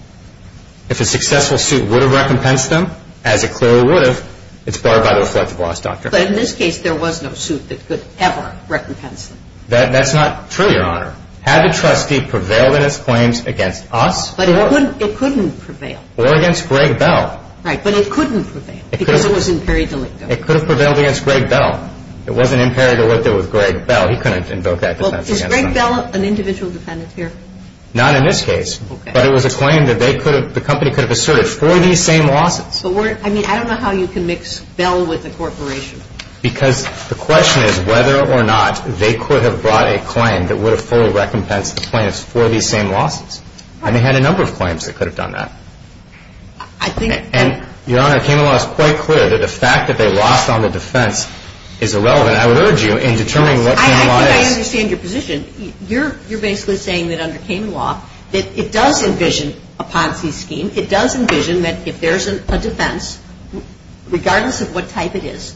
If a successful suit would have recompensed them, as it clearly would have, it's barred by the Reflective Loss Doctrine. But in this case, there was no suit that could ever recompense them. That's not true, Your Honor. Had the trustee prevailed in its claims against us or against Greg Bell. Right, but it couldn't prevail because it was in peri delicto. It could have prevailed against Greg Bell. It wasn't in peri delicto with Greg Bell. He couldn't invoke that defense against them. Is Greg Bell an individual defendant here? Not in this case. But it was a claim that the company could have asserted for these same losses. I mean, I don't know how you can mix Bell with a corporation. Because the question is whether or not they could have brought a claim that would have fully recompensed the plaintiffs for these same losses. And they had a number of claims that could have done that. And, Your Honor, Cayman Law is quite clear that the fact that they lost on the defense is irrelevant. I would urge you in determining what Cayman Law is. I think I understand your position. You're basically saying that under Cayman Law, that it does envision a Ponzi scheme. It does envision that if there's a defense, regardless of what type it is,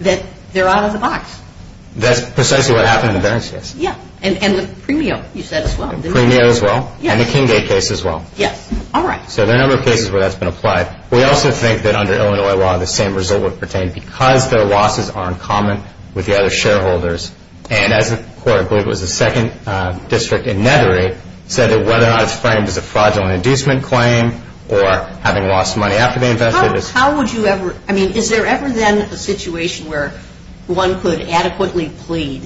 that they're out of the box. That's precisely what happened in the Barron case. Yeah, and the Premio, you said as well. The Premio as well, and the Kinggate case as well. Yes, all right. So there are a number of cases where that's been applied. We also think that under Illinois law, the same result would pertain because their losses are in common with the other shareholders. And as the court, I believe it was the 2nd District in Nethery, said that whether or not it's framed as a fraudulent inducement claim or having lost money after they invested. How would you ever – I mean, is there ever then a situation where one could adequately plead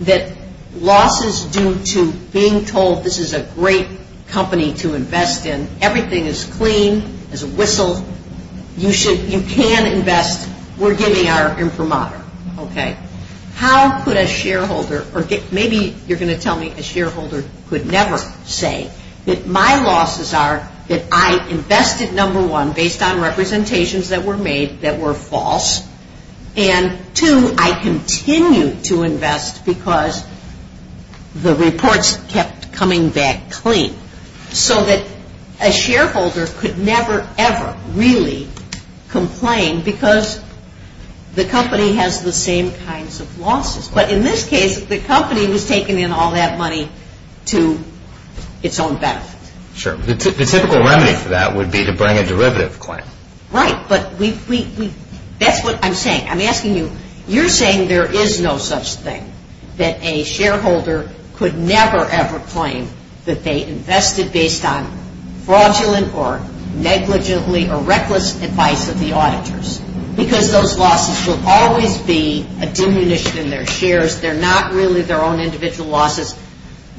that losses due to being told this is a great company to invest in, everything is clean, there's a whistle, you can invest, we're giving our imprimatur? Okay. How could a shareholder – or maybe you're going to tell me a shareholder could never say that my losses are that I invested, number one, based on representations that were made that were false, and two, I continue to invest because the reports kept coming back clean, so that a shareholder could never ever really complain because the company has the same kinds of losses. But in this case, the company was taking in all that money to its own benefit. Sure. The typical remedy for that would be to bring a derivative claim. Right, but we – that's what I'm saying. I'm asking you – you're saying there is no such thing that a shareholder could never ever claim that they invested based on fraudulent or negligently or reckless advice of the auditors because those losses will always be a diminution in their shares. They're not really their own individual losses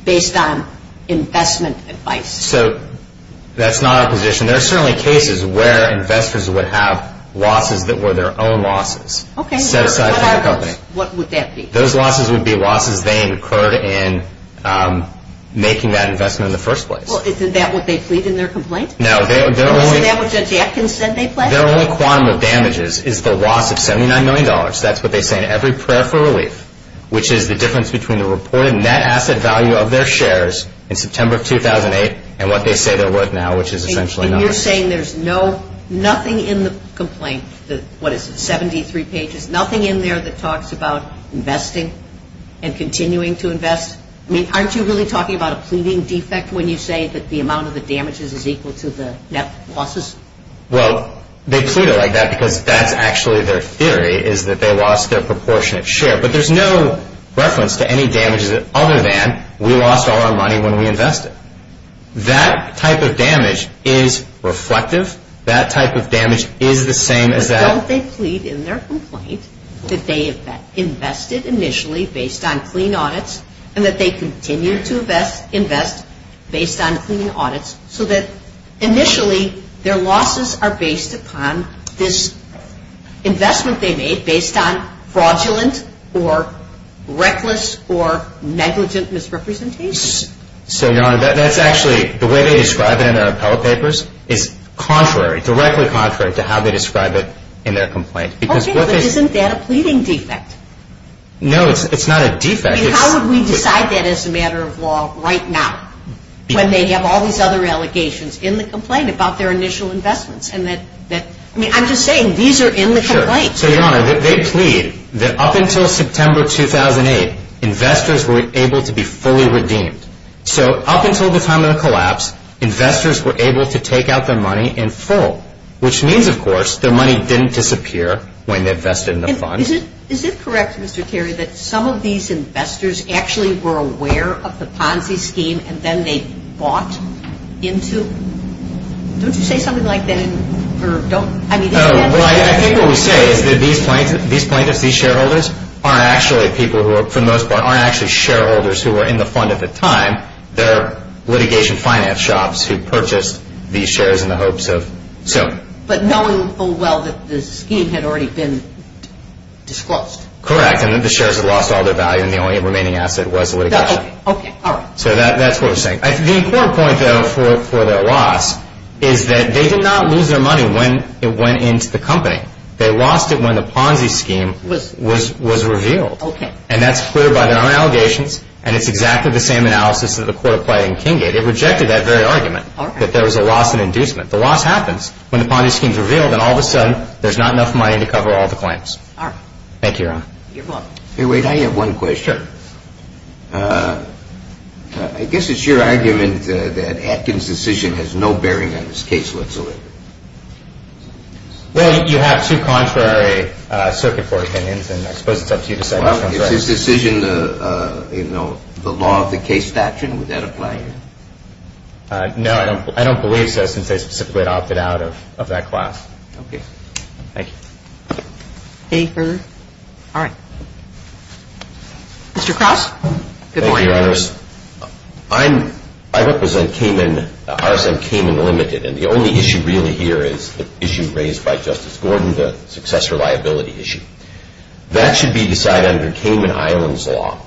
based on investment advice. So that's not a position. And there are certainly cases where investors would have losses that were their own losses set aside for the company. Okay, but what would that be? Those losses would be losses they incurred in making that investment in the first place. Well, isn't that what they plead in their complaint? No, they're only – Isn't that what Judge Atkins said they plead? Their only quantum of damages is the loss of $79 million. That's what they say in every prayer for relief, which is the difference between the reported net asset value of their shares in September of 2008 and what they say they're worth now, which is essentially nothing. And you're saying there's nothing in the complaint, what is it, 73 pages, nothing in there that talks about investing and continuing to invest? I mean, aren't you really talking about a pleading defect when you say that the amount of the damages is equal to the net losses? Well, they plead it like that because that's actually their theory is that they lost their proportionate share. But there's no reference to any damages other than we lost all our money when we invested. That type of damage is reflective. That type of damage is the same as that. But don't they plead in their complaint that they invested initially based on clean audits and that they continue to invest based on clean audits so that initially their losses are based upon this investment they made based on fraudulent or reckless or negligent misrepresentations? So, Your Honor, that's actually the way they describe it in their appellate papers is contrary, directly contrary to how they describe it in their complaint. Okay, but isn't that a pleading defect? No, it's not a defect. How would we decide that as a matter of law right now when they have all these other allegations in the complaint about their initial investments? I mean, I'm just saying these are in the complaint. So, Your Honor, they plead that up until September 2008, investors were able to be fully redeemed. So up until the time of the collapse, investors were able to take out their money in full, which means, of course, their money didn't disappear when they invested in the fund. Is it correct, Mr. Carey, that some of these investors actually were aware of the Ponzi scheme and then they bought into it? Don't you say something like that? Well, I think what we say is that these plaintiffs, these shareholders, are actually people who, for the most part, aren't actually shareholders who were in the fund at the time. They're litigation finance shops who purchased these shares in the hopes of... But knowing full well that the scheme had already been disclosed. Correct, and that the shares had lost all their value and the only remaining asset was the litigation. Okay, all right. So that's what we're saying. The important point, though, for their loss is that they did not lose their money when it went into the company. They lost it when the Ponzi scheme was revealed. And that's clear by their own allegations and it's exactly the same analysis that the court applied in Kinggate. It rejected that very argument that there was a loss in inducement. The loss happens when the Ponzi scheme is revealed and all of a sudden there's not enough money to cover all the claims. Thank you, Your Honor. You're welcome. Wait, I have one question. Sure. I guess it's your argument that Atkins' decision has no bearing on this case whatsoever. Well, you have two contrary circuit board opinions and I suppose it's up to you to decide which one's right. Well, is his decision the law of the case statute? Would that apply here? No, I don't believe so since I specifically opted out of that class. Okay, thank you. Any further? All right. Mr. Krause, good morning. Thank you, Your Honor. I represent Kamin, RSM Kamin Limited, and the only issue really here is the issue raised by Justice Gordon, the successor liability issue. That should be decided under Kamin Island's law.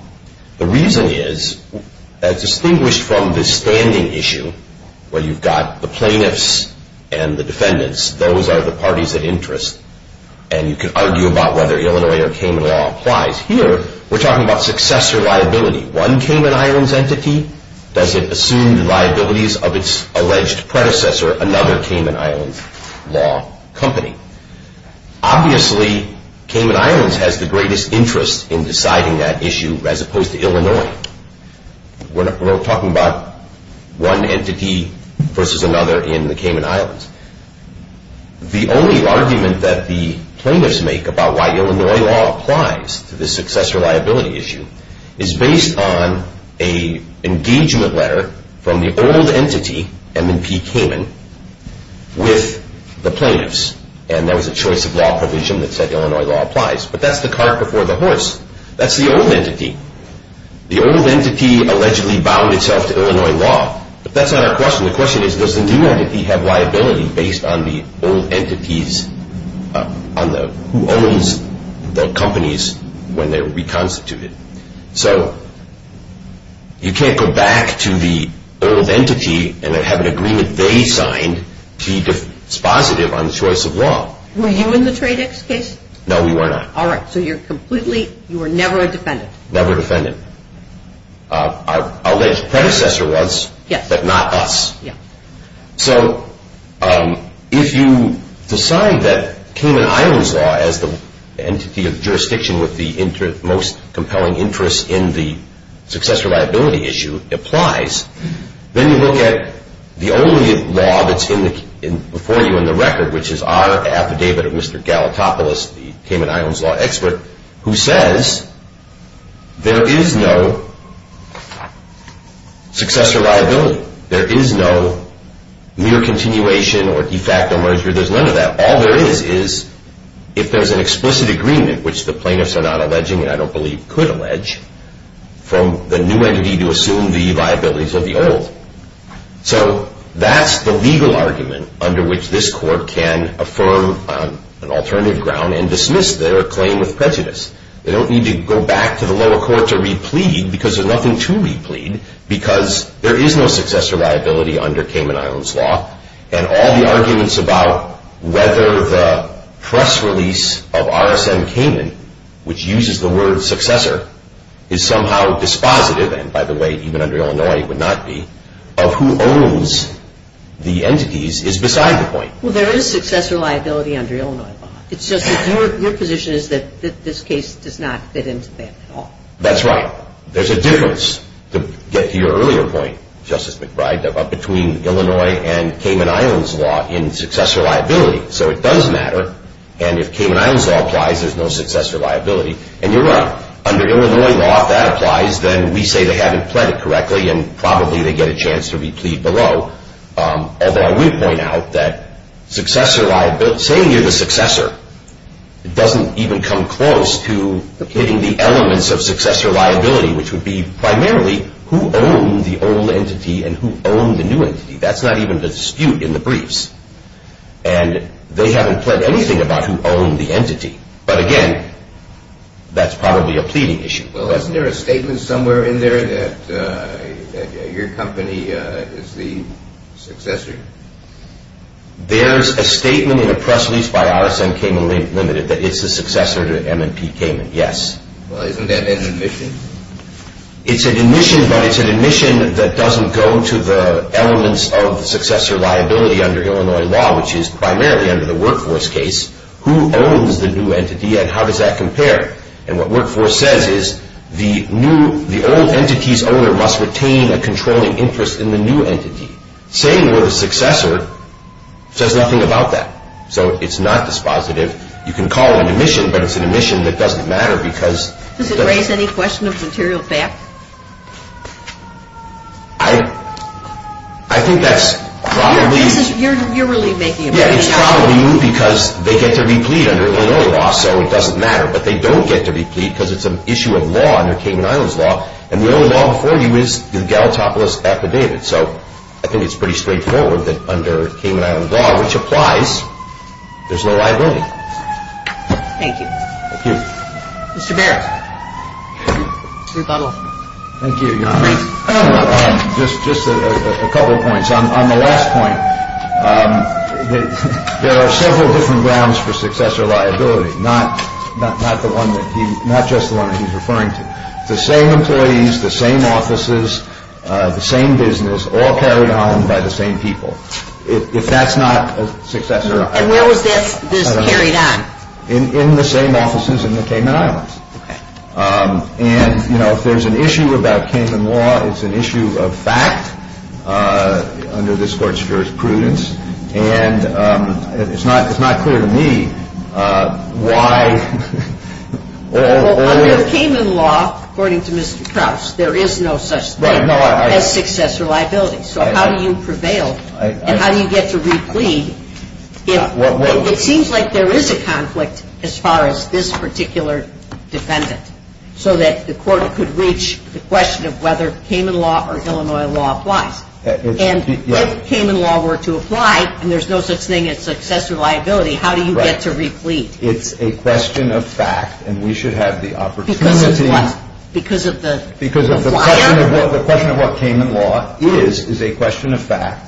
The reason is that distinguished from the standing issue where you've got the plaintiffs and the defendants, those are the parties of interest and you can argue about whether Illinois or Kamin law applies. Here, we're talking about successor liability. One Kamin Island's entity, does it assume the liabilities of its alleged predecessor, another Kamin Island's law company? Obviously, Kamin Island has the greatest interest in deciding that issue as opposed to Illinois. We're talking about one entity versus another in the Kamin Islands. The only argument that the plaintiffs make about why Illinois law applies to this successor liability issue is based on an engagement letter from the old entity, M&P Kamin, with the plaintiffs, and there was a choice of law provision that said Illinois law applies, but that's the cart before the horse. That's the old entity. The old entity allegedly bound itself to Illinois law, but that's not our question. The question is, does the new entity have liability based on the old entity's, who owns the companies when they're reconstituted? So you can't go back to the old entity and then have an agreement they signed to be dispositive on the choice of law. Were you in the Tradex case? No, we were not. All right, so you're completely, you were never a defendant. Never a defendant. Our alleged predecessor was, but not us. So if you decide that Kamin Islands law as the entity of jurisdiction with the most compelling interest in the successor liability issue applies, then you look at the only law that's before you in the record, which is our affidavit of Mr. Galatopoulos, the Kamin Islands law expert, who says there is no successor liability. There is no mere continuation or de facto merger. There's none of that. All there is is if there's an explicit agreement, which the plaintiffs are not alleging and I don't believe could allege, from the new entity to assume the liabilities of the old. So that's the legal argument under which this court can affirm on an alternative ground and dismiss their claim with prejudice. They don't need to go back to the lower court to replead because there's nothing to replead because there is no successor liability under Kamin Islands law and all the arguments about whether the press release of RSM Kamin, which uses the word successor, is somehow dispositive, and by the way, even under Illinois it would not be, of who owns the entities is beside the point. Well, there is successor liability under Illinois law. It's just that your position is that this case does not fit into that at all. That's right. There's a difference, to get to your earlier point, Justice McBride, between Illinois and Kamin Islands law in successor liability. So it does matter, and if Kamin Islands law applies, there's no successor liability, and you're right. Under Illinois law, if that applies, then we say they haven't pled it correctly and probably they get a chance to replead below, although I would point out that saying you're the successor doesn't even come close to hitting the elements of successor liability, which would be primarily who owned the old entity and who owned the new entity. That's not even the dispute in the briefs, and they haven't pled anything about who owned the entity, but again, that's probably a pleading issue. Well, isn't there a statement somewhere in there that your company is the successor? There's a statement in a press release by RSN Kamin Limited that it's the successor to M&P Kamin, yes. Well, isn't that an admission? It's an admission, but it's an admission that doesn't go to the elements of the successor liability under Illinois law, which is primarily under the workforce case. Who owns the new entity and how does that compare? And what workforce says is the old entity's owner must retain a controlling interest in the new entity. Saying you're the successor says nothing about that, so it's not dispositive. You can call it an admission, but it's an admission that doesn't matter because... Does it raise any question of material theft? I think that's probably... You're really making a point. Yeah, it's probably because they get to replead under Illinois law, so it doesn't matter, but they don't get to replead because it's an issue of law under Kamin Island's law, and the only law before you is the Gallatopolis affidavit. So I think it's pretty straightforward that under Kamin Island's law, which applies, there's no liability. Thank you. Thank you. Mr. Barrett. Thank you, Your Honor. Just a couple of points. On the last point, there are several different grounds for successor liability, not just the one that he's referring to. The same employees, the same offices, the same business, all carried on by the same people. If that's not a successor... And where was this carried on? In the same offices in the Kamin Islands. And, you know, if there's an issue about Kamin law, it's an issue of fact under this Court's jurisprudence, and it's not clear to me why... Well, under Kamin law, according to Mr. Krauss, there is no such thing as successor liability, so how do you prevail and how do you get to replead? It seems like there is a conflict as far as this particular defendant so that the Court could reach the question of whether Kamin law or Illinois law applies. And if Kamin law were to apply and there's no such thing as successor liability, how do you get to replead? It's a question of fact, and we should have the opportunity... Because of what? Because of the... Because of the question of what Kamin law is, is a question of fact.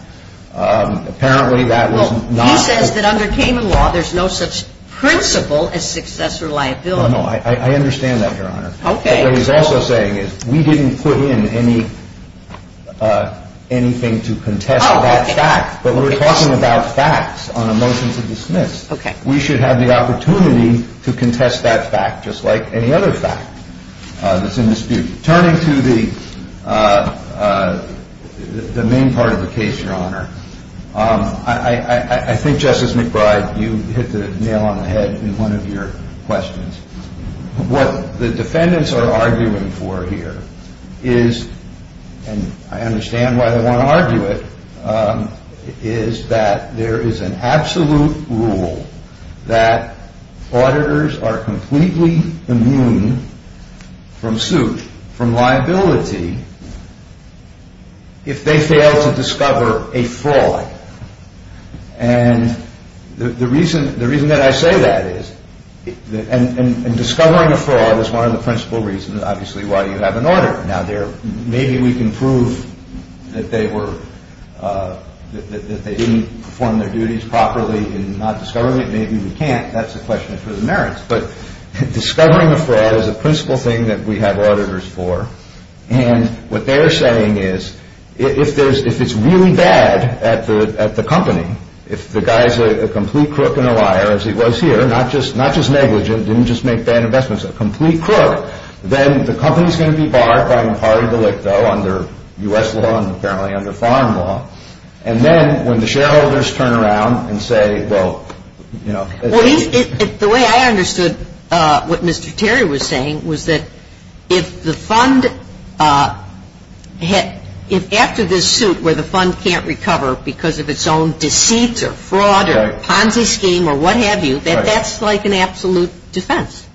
Apparently, that was not... He says that under Kamin law, there's no such principle as successor liability. No, no, I understand that, Your Honor. Okay. But what he's also saying is we didn't put in anything to contest that fact. But when we're talking about facts on a motion to dismiss, we should have the opportunity to contest that fact, just like any other fact that's in dispute. Turning to the main part of the case, Your Honor, I think, Justice McBride, you hit the nail on the head in one of your questions. What the defendants are arguing for here is, and I understand why they want to argue it, is that there is an absolute rule that auditors are completely immune from suit, from liability, if they fail to discover a fraud. And the reason that I say that is... And discovering a fraud is one of the principal reasons, obviously, why you have an auditor. Now, maybe we can prove that they didn't perform their duties properly in not discovering it. Maybe we can't. That's a question for the merits. But discovering a fraud is a principal thing that we have auditors for. And what they're saying is if it's really bad at the company, if the guy's a complete crook and a liar, as he was here, not just negligent, didn't just make bad investments, a complete crook, then the company's going to be barred by impartial delicto under U.S. law and apparently under foreign law. And then when the shareholders turn around and say, well, you know... Well, the way I understood what Mr. Terry was saying was that if the fund had... if after this suit where the fund can't recover because of its own deceit or fraud or Ponzi scheme or what have you, that that's like an absolute defense.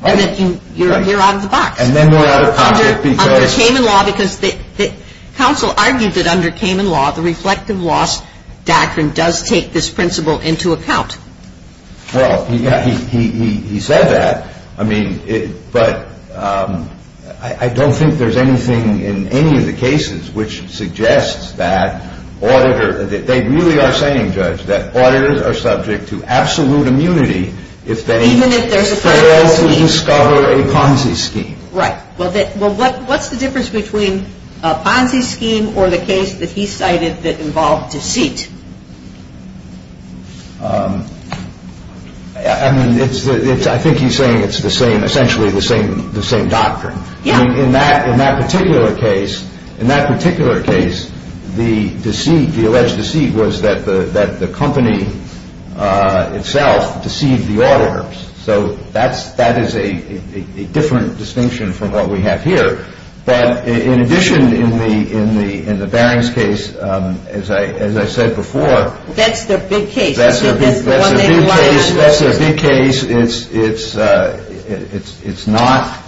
Right. And that you're out of the box. And then they're out of conflict because... Under Cayman law, because the counsel argued that under Cayman law, the reflective loss doctrine does take this principle into account. Well, he said that. I mean, but I don't think there's anything in any of the cases which suggests that auditor... they really are saying, Judge, that auditors are subject to absolute immunity if they... Even if there's a Ponzi scheme. ...fail to discover a Ponzi scheme. Right. Well, what's the difference between a Ponzi scheme or the case that he cited that involved deceit? I mean, I think he's saying it's the same, essentially the same doctrine. Yeah. I mean, in that particular case, in that particular case, the deceit, the alleged deceit was that the company itself deceived the auditors. So that is a different distinction from what we have here. But in addition, in the Barings case, as I said before... That's their big case. That's their big case. That's their big case. It's not,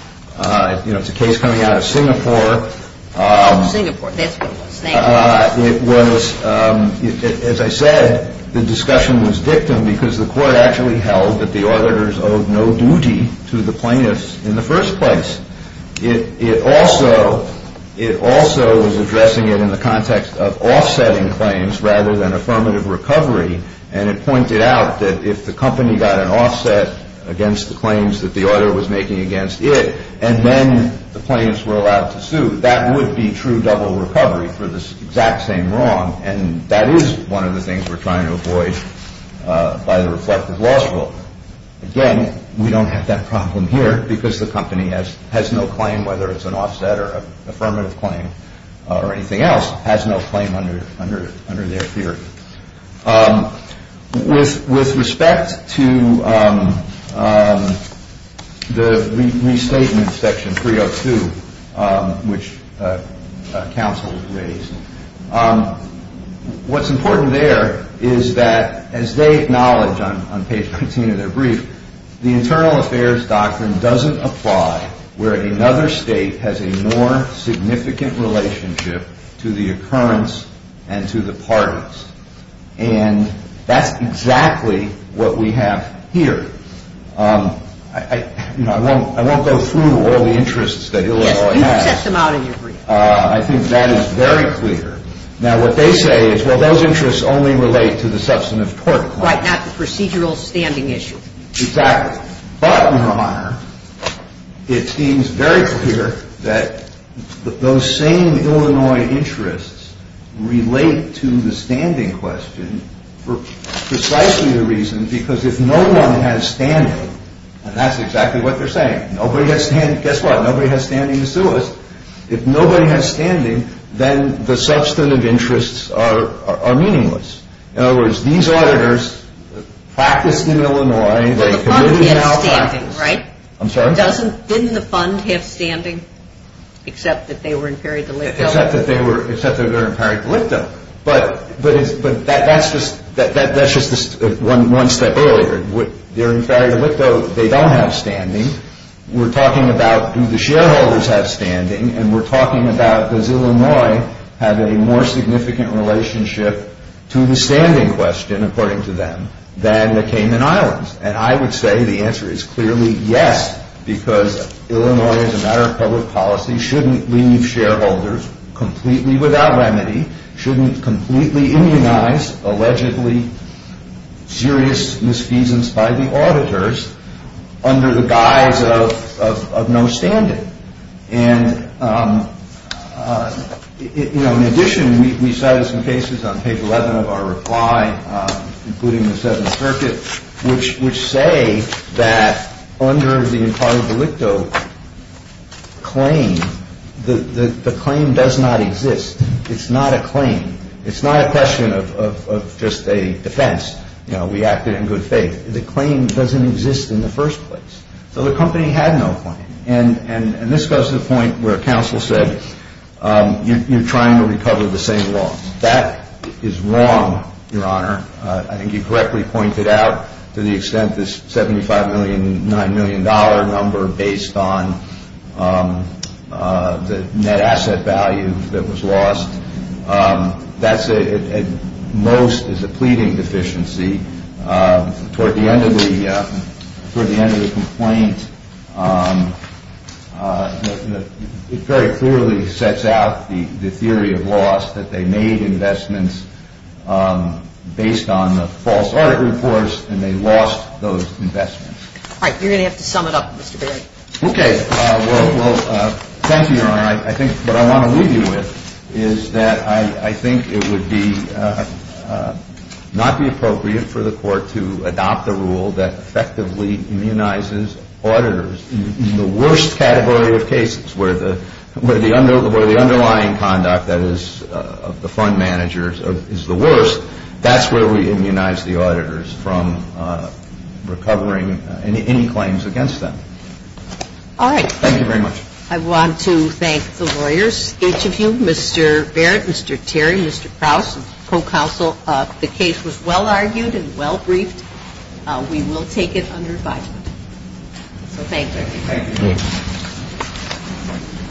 you know, it's a case coming out of Singapore. Oh, Singapore. That's what it was. It was, as I said, the discussion was victim because the court actually held that the auditors owed no duty to the plaintiffs in the first place. It also was addressing it in the context of offsetting claims rather than affirmative recovery. And it pointed out that if the company got an offset against the claims that the auditor was making against it, and then the plaintiffs were allowed to sue, that would be true double recovery for this exact same wrong. And that is one of the things we're trying to avoid by the reflective loss rule. Again, we don't have that problem here because the company has no claim, whether it's an offset or affirmative claim or anything else, has no claim under their theory. With respect to the restatement section 302, which counsel raised, what's important there is that as they acknowledge on page 19 of their brief, the internal affairs doctrine doesn't apply where another state has a more significant relationship to the occurrence and to the parties. And that's exactly what we have here. I won't go through all the interests that Illinois has. Yes, you've set them out in your brief. I think that is very clear. Now, what they say is, well, those interests only relate to the substantive tort claim. Right, not the procedural standing issue. Exactly. But, Your Honor, it seems very clear that those same Illinois interests relate to the standing question for precisely the reason because if no one has standing, and that's exactly what they're saying, nobody has standing. Guess what? Nobody has standing to sue us. If nobody has standing, then the substantive interests are meaningless. In other words, these auditors practiced in Illinois. The fund has standing, right? I'm sorry? Didn't the fund have standing except that they were in peri-delicto? Except that they were in peri-delicto. But that's just one step earlier. They're in peri-delicto. We're talking about do the shareholders have standing, and we're talking about does Illinois have a more significant relationship to the standing question, according to them, than the Cayman Islands? And I would say the answer is clearly yes because Illinois, as a matter of public policy, shouldn't leave shareholders completely without remedy, shouldn't completely immunize allegedly serious misfeasance by the auditors under the guise of no standing. And, you know, in addition, we cited some cases on page 11 of our reply, including the Seventh Circuit, which say that under the peri-delicto claim, the claim does not exist. It's not a claim. It's not a question of just a defense. You know, we acted in good faith. The claim doesn't exist in the first place. So the company had no claim. And this goes to the point where counsel said you're trying to recover the same loss. That is wrong, Your Honor. I think you correctly pointed out to the extent this $75.9 million number based on the net asset value that was lost, that's at most is a pleading deficiency. Toward the end of the complaint, it very clearly sets out the theory of loss, that they made investments based on the false audit reports and they lost those investments. All right. You're going to have to sum it up, Mr. Berry. Well, thank you, Your Honor. Your Honor, I think what I want to leave you with is that I think it would not be appropriate for the court to adopt a rule that effectively immunizes auditors in the worst category of cases, where the underlying conduct that is of the fund managers is the worst. That's where we immunize the auditors from recovering any claims against them. All right. Thank you very much. I want to thank the lawyers, each of you, Mr. Barrett, Mr. Terry, Mr. Krauss, and co-counsel. The case was well argued and well briefed. We will take it under advisement. So thank you. Thank you.